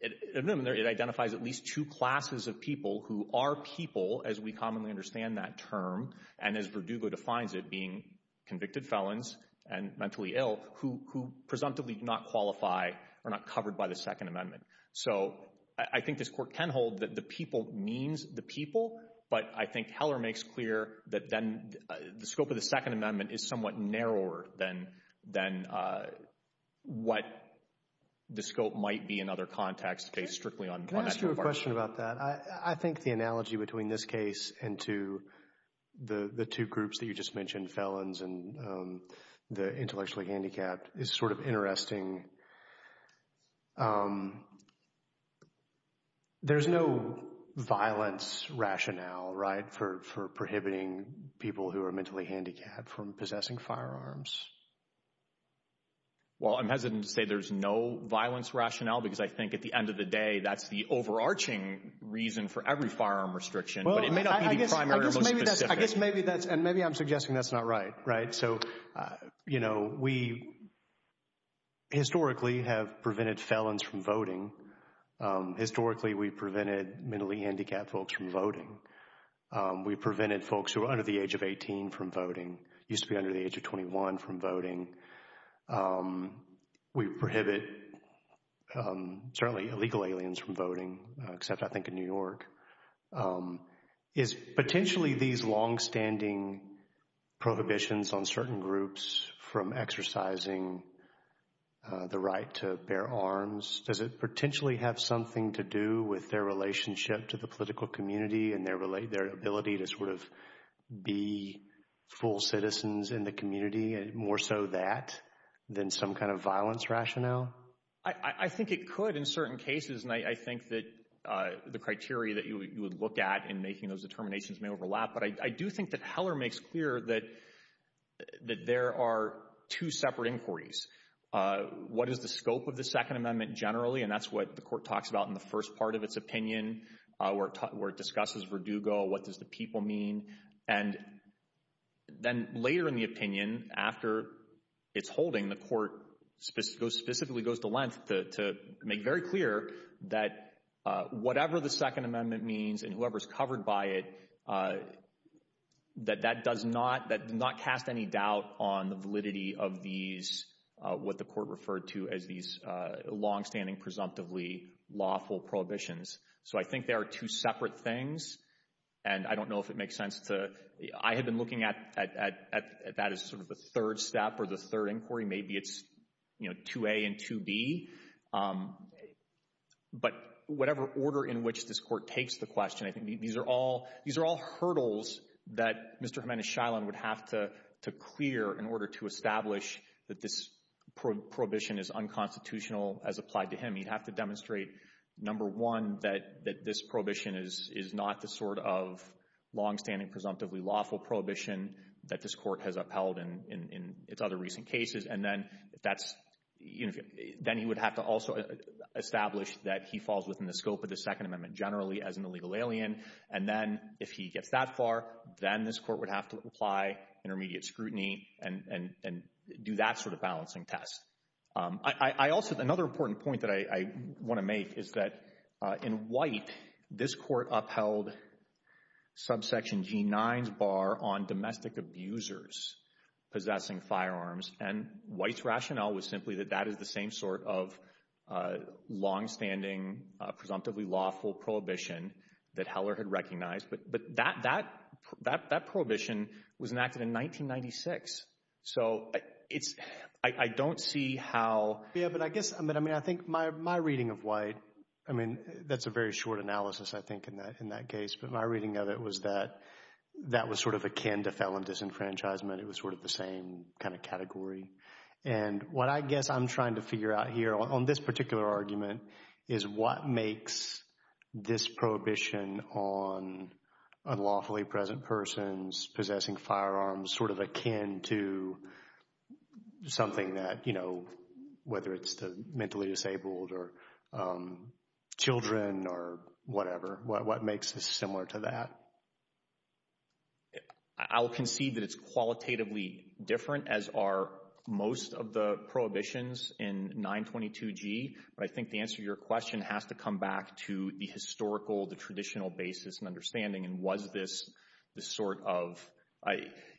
it identifies at least two classes of people who are people, as we commonly understand that term, and as Verdugo defines it, being convicted felons and mentally ill who, who presumptively do not qualify or not covered by the 2nd Amendment. So I think this court can hold that the people means the people, but I think Heller makes clear that then the scope of the 2nd Amendment is somewhat narrower than, than what the scope might be in other contexts based strictly on that. Can I ask you a question about that? I think the analogy between this case and to the two groups that you just mentioned, felons and the intellectually handicapped is sort of interesting. There's no violence rationale, right? For, for prohibiting people who are mentally handicapped from possessing firearms. Well, I'm hesitant to say there's no violence rationale because I think at the end of the day, that's the overarching reason for every firearm restriction. Well, I guess, I guess maybe that's, and maybe I'm suggesting that's not right, right? So, you know, we historically have prevented felons from voting. Historically, we prevented mentally handicapped folks from voting. We prevented folks who are under the age of 18 from voting, used to be under the age of 21 from voting. We prohibit certainly illegal aliens from voting, except I think in New York. Is potentially these longstanding prohibitions on certain groups from exercising the right to bear arms, does it potentially have something to do with their relationship to the political community and their ability to sort of be full citizens in the community and more so that than some kind of violence rationale? I think it could in certain cases, and I think that the criteria that you would look at in making those determinations may overlap. But I do think that Heller makes clear that there are two separate inquiries. What is the scope of the Second Amendment generally? And that's what the court talks about in the first part of its opinion, where it discusses Verdugo, what does the people mean? And then later in the that whatever the Second Amendment means, and whoever is covered by it, that that does not that not cast any doubt on the validity of these, what the court referred to as these longstanding, presumptively lawful prohibitions. So I think there are two separate things. And I don't know if it makes sense to, I have been looking at that as sort of the third step or the third inquiry, maybe it's, you know, 2A and 2B. But whatever order in which this court takes the question, I think these are all these are all hurdles that Mr. Jimenez-Shiloh would have to clear in order to establish that this prohibition is unconstitutional as applied to him, you have to demonstrate, number one, that this prohibition is not the sort of longstanding, presumptively lawful prohibition that this court has upheld in its other recent cases. And then that's, you know, then you would have to also establish that he falls within the scope of the Second Amendment generally as an illegal alien. And then if he gets that far, then this court would have to apply intermediate scrutiny and do that sort of balancing test. I also another on domestic abusers possessing firearms. And White's rationale was simply that that is the same sort of longstanding, presumptively lawful prohibition that Heller had recognized. But that prohibition was enacted in 1996. So it's, I don't see how. Yeah, but I guess I mean, I mean, I think my reading of White, I mean, that's a very short analysis, I think, in that case, but my reading of it was that that was sort of akin to felon disenfranchisement. It was sort of the same kind of category. And what I guess I'm trying to figure out here on this particular argument is what makes this prohibition on unlawfully present persons possessing firearms sort of akin to something that, you know, whether it's mentally disabled or children or whatever, what makes this similar to that? I'll concede that it's qualitatively different, as are most of the prohibitions in 922g. But I think the answer to your question has to come back to the historical, the traditional basis and understanding and was this the sort of I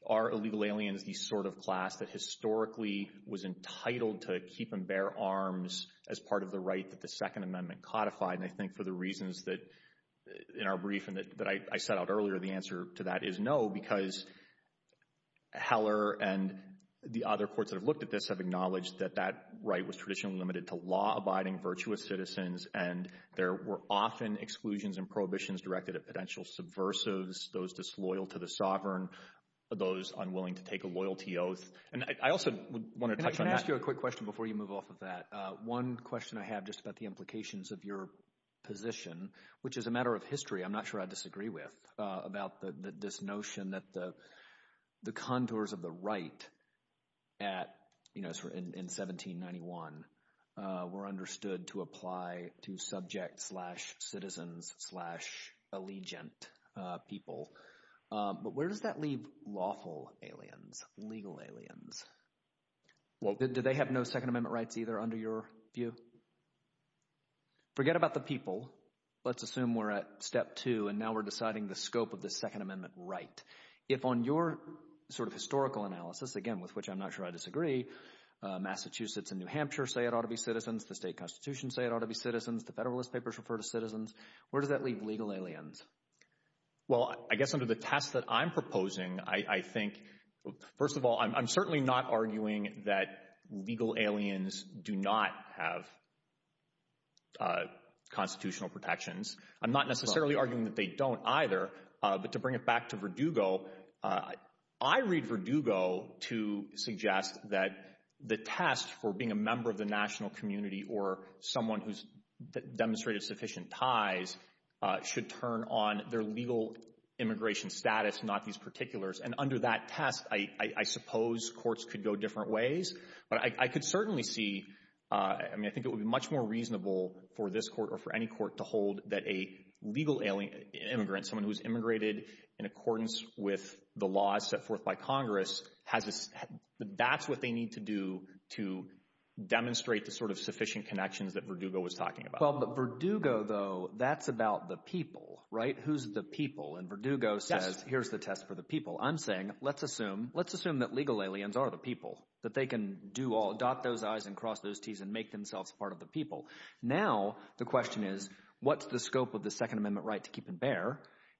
are illegal aliens, the sort of class that historically was entitled to keep and bear arms as part of the right that the Second Amendment codified. And I think for the reasons that in our brief and that I set out earlier, the answer to that is no, because Heller and the other courts that have looked at this have acknowledged that that right was traditionally limited to law abiding virtuous citizens. And there were often exclusions and prohibitions directed at potential subversives, those disloyal to the sovereign, those unwilling to take a loyalty oath. And I also want to ask you a quick question before you move off of that. One question I have just about the implications of your position, which is a matter of history. I'm not sure I disagree with about this notion that the contours of the right at, you know, in 1791 were understood to apply to subject slash citizens slash allegiant people. But where does that leave lawful aliens, legal aliens? Well, did they have no Second Amendment rights either under your view? Forget about the people. Let's assume we're at step two and now we're deciding the scope of the Second Amendment right. If on your sort of historical analysis, again, with which I'm not sure I disagree, Massachusetts and New Hampshire say it ought to be citizens. The state constitution say it ought to be citizens. The Federalist Papers refer to citizens. Where does that leave legal aliens? Well, I guess under the test that I'm First of all, I'm certainly not arguing that legal aliens do not have constitutional protections. I'm not necessarily arguing that they don't either. But to bring it back to Verdugo, I read Verdugo to suggest that the test for being a member of the national community or someone who's demonstrated sufficient ties should turn on their legal immigration status, not these particulars. And under that test, I suppose courts could go different ways. But I could certainly see, I mean, I think it would be much more reasonable for this court or for any court to hold that a legal immigrant, someone who's immigrated in accordance with the laws set forth by Congress, that's what they need to do to demonstrate the sort of sufficient connections that Verdugo was talking about. But Verdugo, though, that's about the people, right? Who's the people? And Verdugo says, here's the test for the people. I'm saying, let's assume that legal aliens are the people, that they can adopt those I's and cross those T's and make themselves part of the people. Now the question is, what's the scope of the Second Amendment right to keep them there?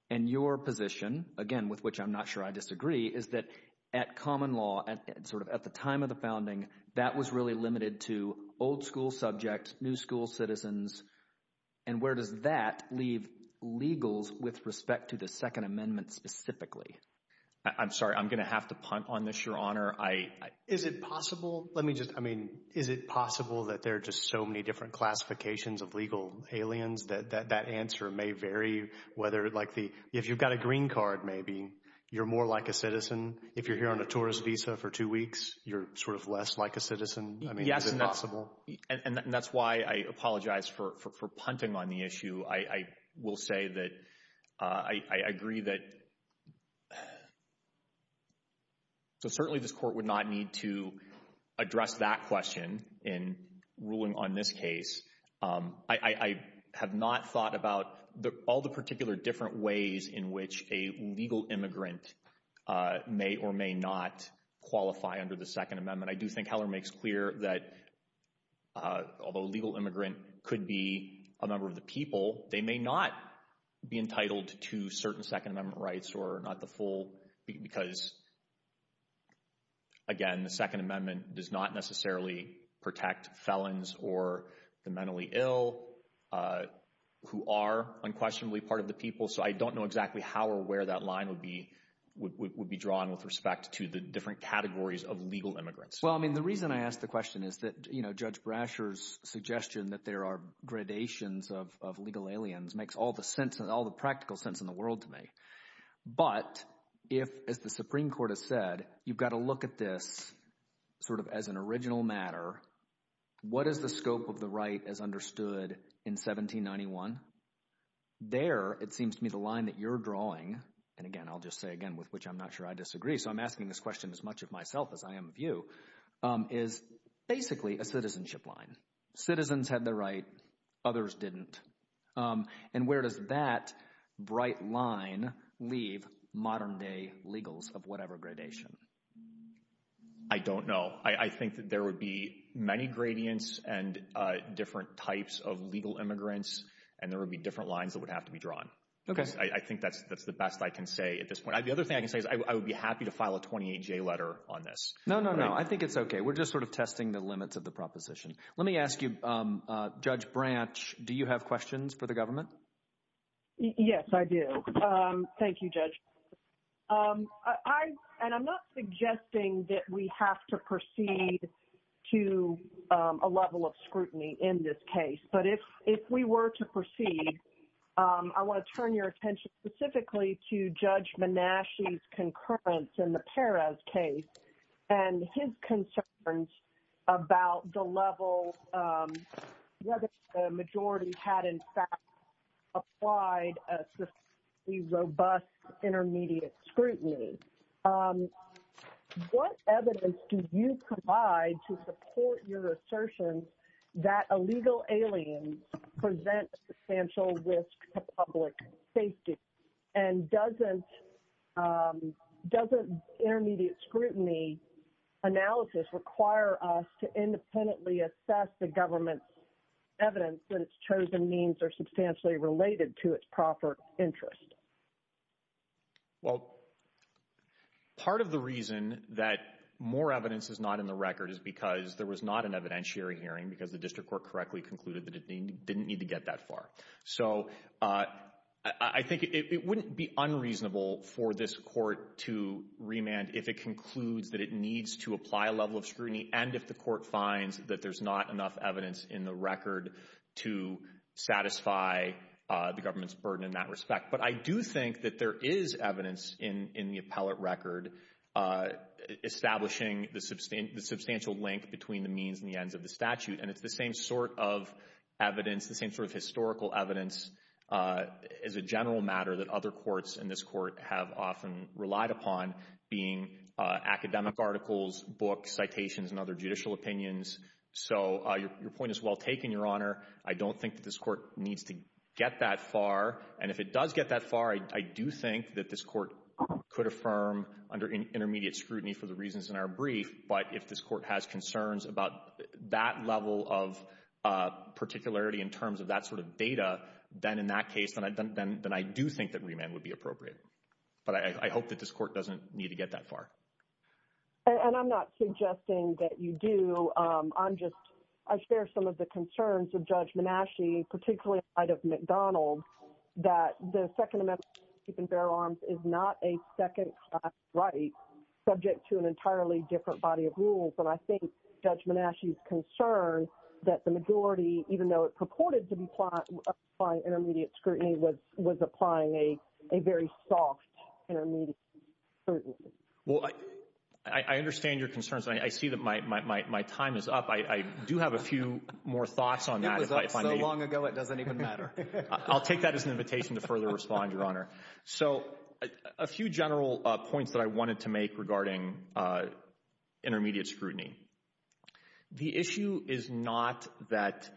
And your position, again, with which I'm not sure I disagree, is that at common law, sort of at the time of the founding, that was really limited to with respect to the Second Amendment specifically. I'm sorry, I'm going to have to punt on this, Your Honor. Is it possible, let me just, I mean, is it possible that there are just so many different classifications of legal aliens that that answer may vary whether like the, if you've got a green card, maybe you're more like a citizen. If you're here on a tourist visa for two weeks, you're sort of less like a citizen. I mean, is it possible? And that's why I apologize for punting on the issue. I will say that I agree that, so certainly this court would not need to address that question in ruling on this case. I have not thought about all the particular different ways in which a legal immigrant may or may not qualify under the Second Amendment. I do think Heller makes clear that although a legal immigrant could be a number of the people, they may not be entitled to certain Second Amendment rights or not the full because, again, the Second Amendment does not necessarily protect felons or the mentally ill who are unquestionably part of the people. So, I don't know exactly how or where that line would be drawn with respect to the different questions that Judge Brasher's suggestion that there are gradations of legal aliens makes all the sense and all the practical sense in the world to me. But if the Supreme Court has said you've got to look at this sort of as an original matter, what is the scope of the right as understood in 1791? There it seems to me the line that you're drawing, and again I'll just say again with which I'm not sure I disagree, so I'm asking this question as much of myself as I am of you, is basically a citizenship line. Citizens had the right. Others didn't. And where does that bright line leave modern-day legals of whatever gradation? I don't know. I think that there would be many gradients and different types of legal immigrants and there would be different lines that would have to be drawn. I think that's the best I can say at this point. The other thing I can say is I would be happy to file a 28-J letter on this. No, no, no. I think it's okay. We're just sort of testing the limits of the proposition. Let me ask you, Judge Branch, do you have questions for the government? Yes, I do. Thank you, Judge. And I'm not suggesting that we have to proceed to a level of scrutiny in this case, but if we were to proceed, I want to turn your attention specifically to Judge Manashi's concurrence in the Perez case and his concerns about the level whether the majority had in fact applied a robust intermediate scrutiny. What evidence do you provide to support your assertion that illegal aliens present substantial risk to public safety? And doesn't intermediate scrutiny analysis require us to independently assess the government's evidence that its chosen means are substantially related to its proper interest? Well, part of the reason that more evidence is not in the record is because there was not an evidentiary hearing because the district court correctly concluded that it didn't need to get that far. So I think it wouldn't be unreasonable for this court to remand if it concludes that it needs to apply a level of scrutiny and if the court finds that there's not enough evidence in the record to satisfy the government's burden in that respect. But I do think that there is evidence in the appellate record establishing the substantial link between the means and the ends of the statute. And it's the same sort of evidence, the same sort of historical evidence as a general matter that other courts in this court have often relied upon being academic articles, books, citations, and other judicial opinions. So your point is well taken, Your Honor. I don't think that this court needs to get that far. And if it does get that far, I do think that this court could affirm under intermediate scrutiny for the reasons in our brief, but if this court has concerns about that level of particularity in terms of that sort of data, then in that case, then I do think that remand would be appropriate. But I hope that this court doesn't need to get that far. And I'm not suggesting that you do. I'm just, I share some of the concerns of Judge Manasci, particularly outside of McDonald, that the Second Amendment keeping bear arms is not a second class right subject to an entirely different body of rules. And I think Judge Manasci's concern that the majority, even though it purported to be intermediate scrutiny, was applying a very soft intermediate scrutiny. Well, I understand your concerns. I see that my time is up. I do have a few more thoughts on that. This was so long ago, it doesn't even matter. I'll take that as an invitation to further respond, Your Honor. So a few general points that I wanted to make regarding intermediate scrutiny. The issue is not that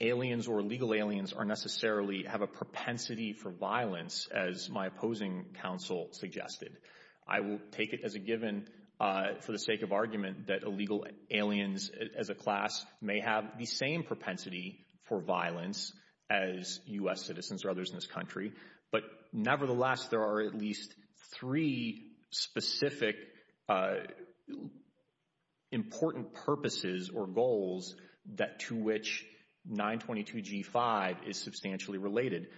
aliens or illegal aliens are necessarily have a propensity for violence as my opposing counsel suggested. I will take it as a given for the sake of argument that illegal aliens as a class may have the same propensity for violence as U.S. citizens or others in this country. But nevertheless, there are at least three specific important purposes or goals that to which 922 G5 is substantially related.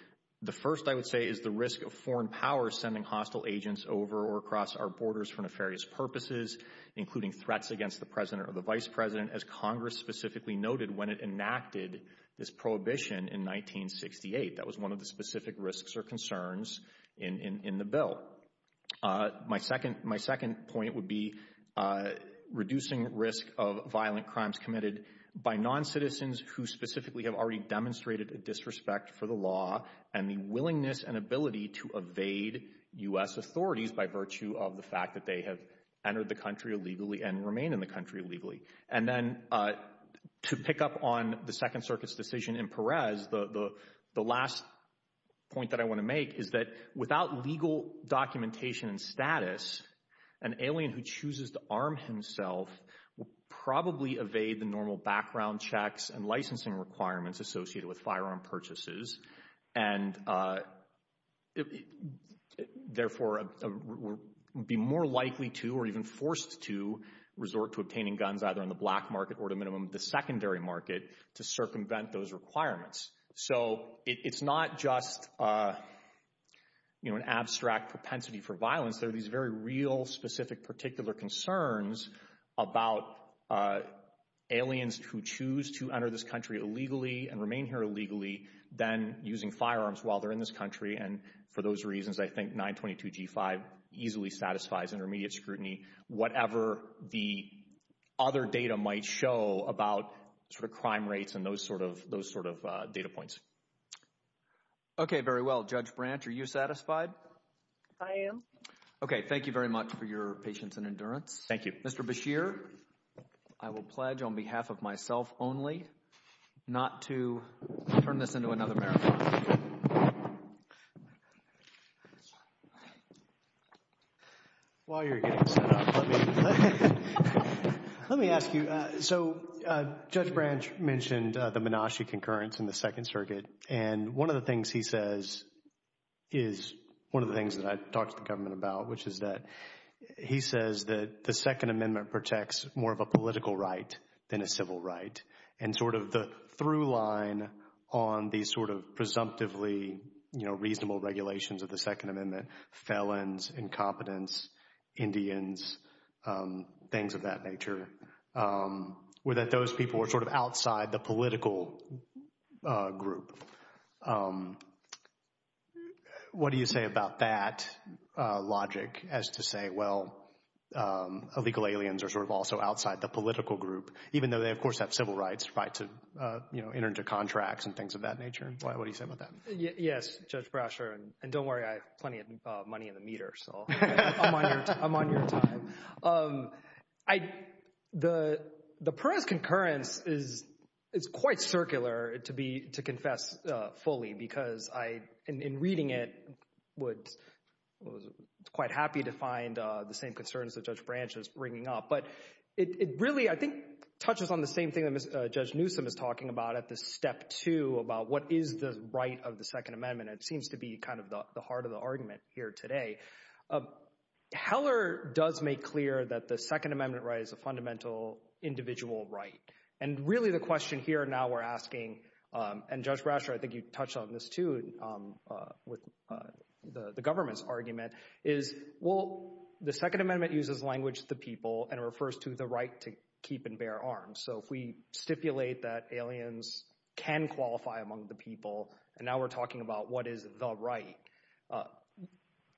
The first I would say is the risk of foreign power sending hostile agents over or across our borders for nefarious purposes, including threats against the president or the vice president, as Congress specifically noted when it enacted this prohibition in 1968. That was one of the specific risks or concerns in the bill. My second point would be reducing risk of violent crimes committed by non-citizens who specifically have already demonstrated a disrespect for the law and the willingness and ability to evade U.S. authorities by virtue of the fact that they have entered the country illegally and remain in the country illegally. And then to pick up on the Second Circuit's decision in Perez, the last point that I want to make is that without legal documentation and status, an alien who chooses to arm himself will probably evade the normal background checks and licensing requirements associated with firearm purchases and therefore be more likely to or even forced to resort to obtaining guns either in the black market or to minimum the secondary market to circumvent those requirements. So it's not just, you know, an abstract propensity for violence. There are these very real, particular concerns about aliens who choose to enter this country illegally and remain here illegally than using firearms while they're in this country. And for those reasons, I think 922g5 easily satisfies intermediate scrutiny, whatever the other data might show about sort of crime rates and those sort of data points. Okay, very well. Judge Branch, are you satisfied? I am. Okay, thank you very much for your patience and endurance. Thank you. Mr. Beshear, I will pledge on behalf of myself only not to turn this into another marathon. While you're getting set up, let me ask you. So Judge Branch mentioned the Menashe concurrence in the Second Circuit. And one of the things he says is one of the things that I talked to the government about, which is that he says that the Second Amendment protects more of a political right than a civil right. And sort of the through line on these sort of presumptively, you know, reasonable regulations of the Second Amendment, felons, incompetence, Indians, things of that group. What do you say about that logic as to say, well, illegal aliens are sort of also outside the political group, even though they, of course, have civil rights, right to, you know, enter into contracts and things of that nature? What do you say about that? Yes, Judge Brasher. And don't worry, I have plenty of money in the meter. So I'm on your side. The current concurrence is to confess fully because I, in reading it, was quite happy to find the same concerns that Judge Branch is bringing up. But it really, I think, touches on the same thing that Judge Newsom is talking about at this step two about what is the right of the Second Amendment. It seems to be kind of the heart of the argument here today. Heller does make clear that the Second Amendment right is a fundamental individual right. And really, the question here now we're asking, and Judge Brasher, I think you touched on this too, with the government's argument is, well, the Second Amendment uses language to people and refers to the right to keep and bear arms. So if we stipulate that aliens can qualify among the people, and now we're talking about what is the right of the Second Amendment,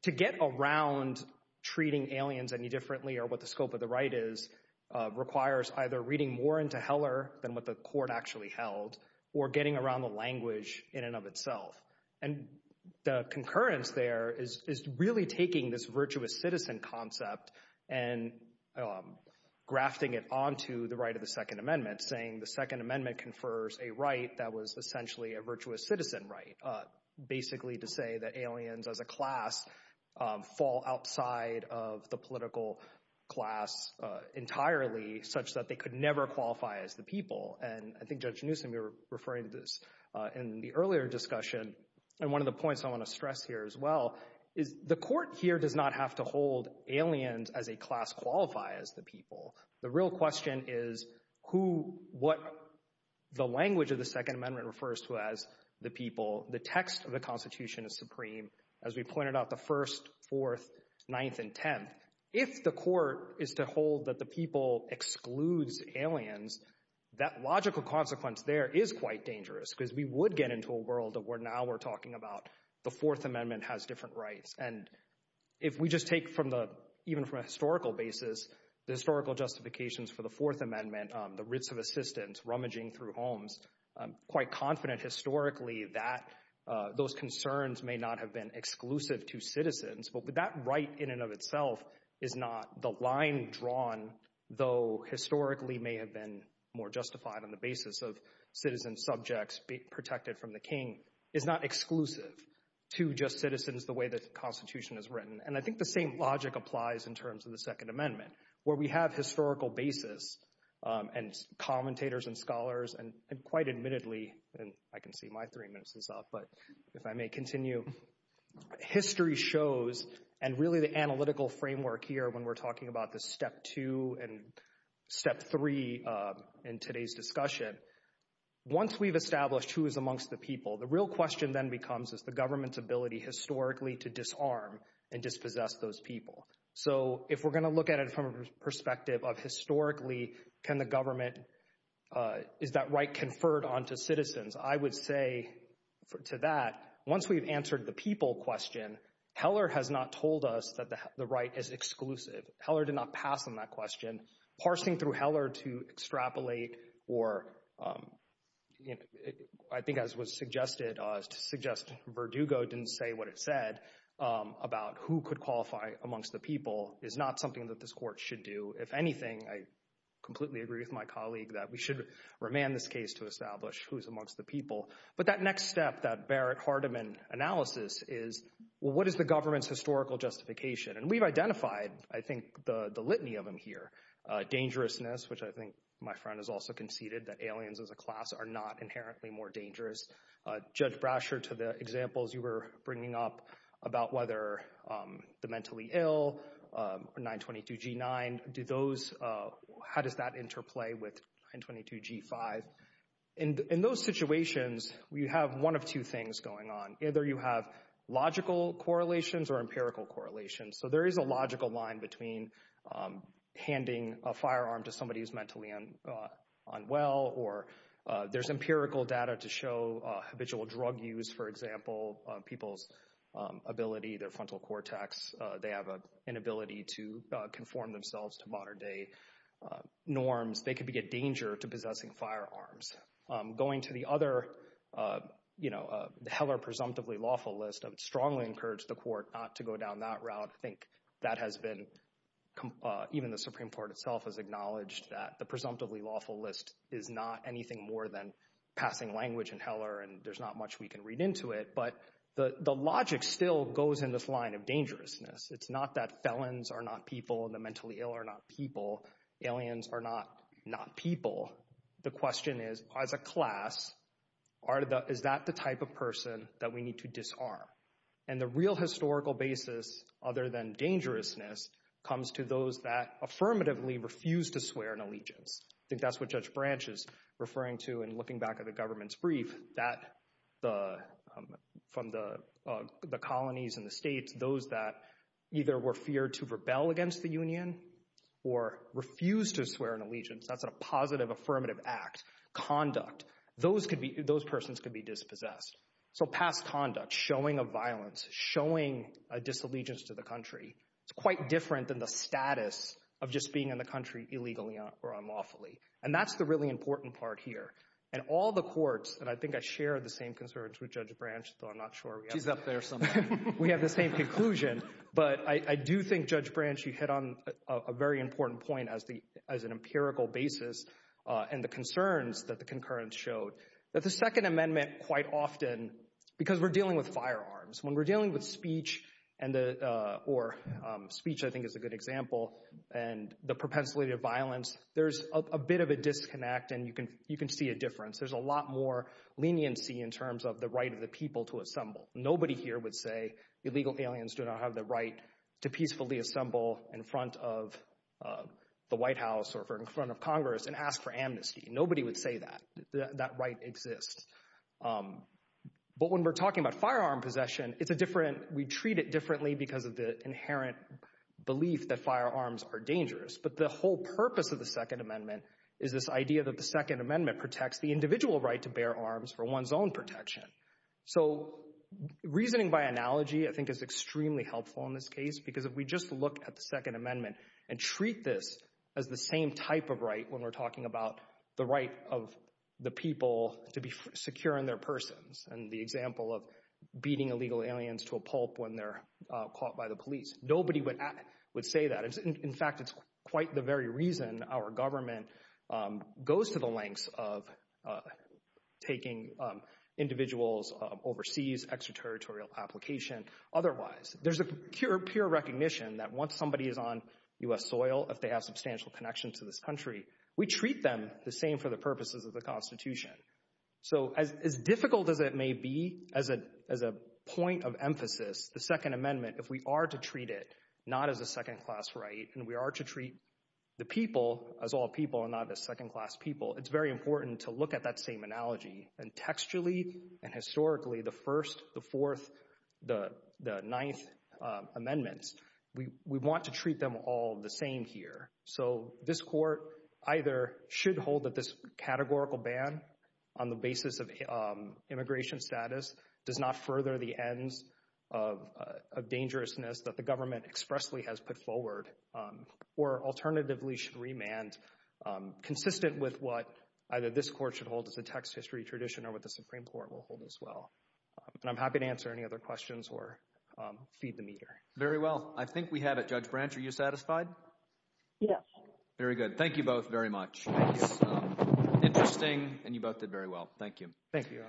to get around treating aliens any differently or what the scope of the right is requires either reading more into Heller than what the court actually held or getting around the language in and of itself. And the concurrence there is really taking this virtuous citizen concept and grafting it onto the right of the Second Amendment, saying the Second Amendment confers a right that was essentially a virtuous citizen right, basically to say that aliens as a class fall outside of the political class entirely such that they could never qualify as the people. And I think Judge Newsom, you're referring to this in the earlier discussion. And one of the points I want to stress here as well is the court here does not have to hold aliens as a class qualify as the people. The real question is who, what the language of the Second Amendment refers to as the people, the text of the Constitution is supreme, as we pointed out the first, fourth, ninth, and tenth. If the court is to hold that the people excludes aliens, that logical consequence there is quite dangerous because we would get into a world that we're now we're talking about the Fourth Amendment has different rights. And if we just take even from a historical basis, the historical justifications for the Fourth Amendment, the risk of assistance rummaging through homes, I'm quite confident historically that those concerns may not have been exclusive to citizens. But that right in and of itself is not the line drawn, though historically may have been more justified on the basis of citizen subjects protected from the king, is not exclusive. To just citizens, the way that the Constitution is written. And I think the same logic applies in terms of the Second Amendment, where we have historical basis, and commentators and scholars, and quite admittedly, and I can see my three minutes is up. But if I may continue, history shows and really the analytical framework here when we're talking about the step two and step three in today's discussion. Once we've established who is amongst the people, the real question then comes is the government's ability historically to disarm and dispossess those people. So if we're going to look at it from a perspective of historically, can the government is that right conferred on to citizens, I would say to that, once we've answered the people question, Heller has not told us that the right is exclusive. Heller did not pass on that question. Parsing through Heller to extrapolate, or I think as was suggested, suggest Verdugo didn't say what it said about who could qualify amongst the people is not something that this court should do. If anything, I completely agree with my colleague that we should remand this case to establish who's amongst the people. But that next step that Barrett-Hardiman analysis is, well, what is the government's litany of them here? Dangerousness, which I think my friend has also conceded that aliens as a class are not inherently more dangerous. Judge Brasher, to the examples you were bringing up about whether the mentally ill, 922G9, how does that interplay with 922G5? In those situations, we have one of two things going on. Either you have logical correlations or empirical correlations. There is a logical line between handing a firearm to somebody who's mentally unwell, or there's empirical data to show habitual drug use, for example, people's ability, their frontal cortex, they have an ability to conform themselves to modern day norms. They could be a danger to possessing firearms. Going to the other Heller presumptively lawful list, I would strongly encourage the court not to go down that route. I think that has been, even the Supreme Court itself has acknowledged that the presumptively lawful list is not anything more than passing language in Heller, and there's not much we can read into it. But the logic still goes in this line of dangerousness. It's not that felons are not people and the mentally ill are not people. Aliens are not people. The question is, as a class, are the, is that the type of person that we need to disarm? And the real historical basis, other than dangerousness, comes to those that affirmatively refuse to swear an allegiance. I think that's what Judge Branch is referring to in looking back at the government's brief, that the, from the colonies and the states, those that either were feared to rebel against the union or refuse to swear an allegiance, that's a positive affirmative act, conduct, those could be, those persons could be dispossessed. So past conduct, showing of violence, showing a disallegiance to the country, it's quite different than the status of just being in the country illegally or unlawfully. And that's the really important part here. And all the courts, and I think I share the same concerns with Judge Branch, though I'm not sure. She's up there somewhere. We have the same conclusion, but I do think Judge Branch, you hit on a very important point as an empirical basis and the concerns that the concurrence showed, that the Second Amendment quite often, because we're dealing with firearms, when we're dealing with speech and the, or speech, I think is a good example, and the propensity to violence, there's a bit of a disconnect and you can see a difference. There's a lot more leniency in terms of the right of the people to assemble. Nobody here would say illegal aliens do not have the right to peacefully assemble in front of the White House or in front of Congress and ask for amnesty. Nobody would say that. That right exists. But when we're talking about firearm possession, it's a different, we treat it differently because of the inherent belief that firearms are dangerous. But the whole purpose of the Second Amendment is this idea that the Second Amendment protects the individual right to bear arms for one's own protection. So reasoning by analogy, I think is extremely helpful in this case, because if we just look at the Second Amendment and treat this as the same type of right, when we're talking about the right of the people to be secure in their persons, and the example of beating illegal aliens to a pulp when they're caught by the police, nobody would say that. In fact, it's the very reason our government goes to the lengths of taking individuals overseas, extraterritorial application, otherwise. There's a pure recognition that once somebody is on U.S. soil, if they have substantial connection to this country, we treat them the same for the purposes of the Constitution. So as difficult as it may be, as a point of emphasis, the Second Amendment, the people, as all people and not as second-class people, it's very important to look at that same analogy. And textually and historically, the First, the Fourth, the Ninth Amendments, we want to treat them all the same here. So this court either should hold that this categorical ban on the basis of immigration status does not further the ends of dangerousness that the Supreme Court should remand, consistent with what either this court should hold as a text history tradition or what the Supreme Court will hold as well. And I'm happy to answer any other questions or feed the meter. Very well. I think we have it. Judge Branch, are you satisfied? Yes. Very good. Thank you both very much. Interesting, and you both did very well. Thank you. Thank you.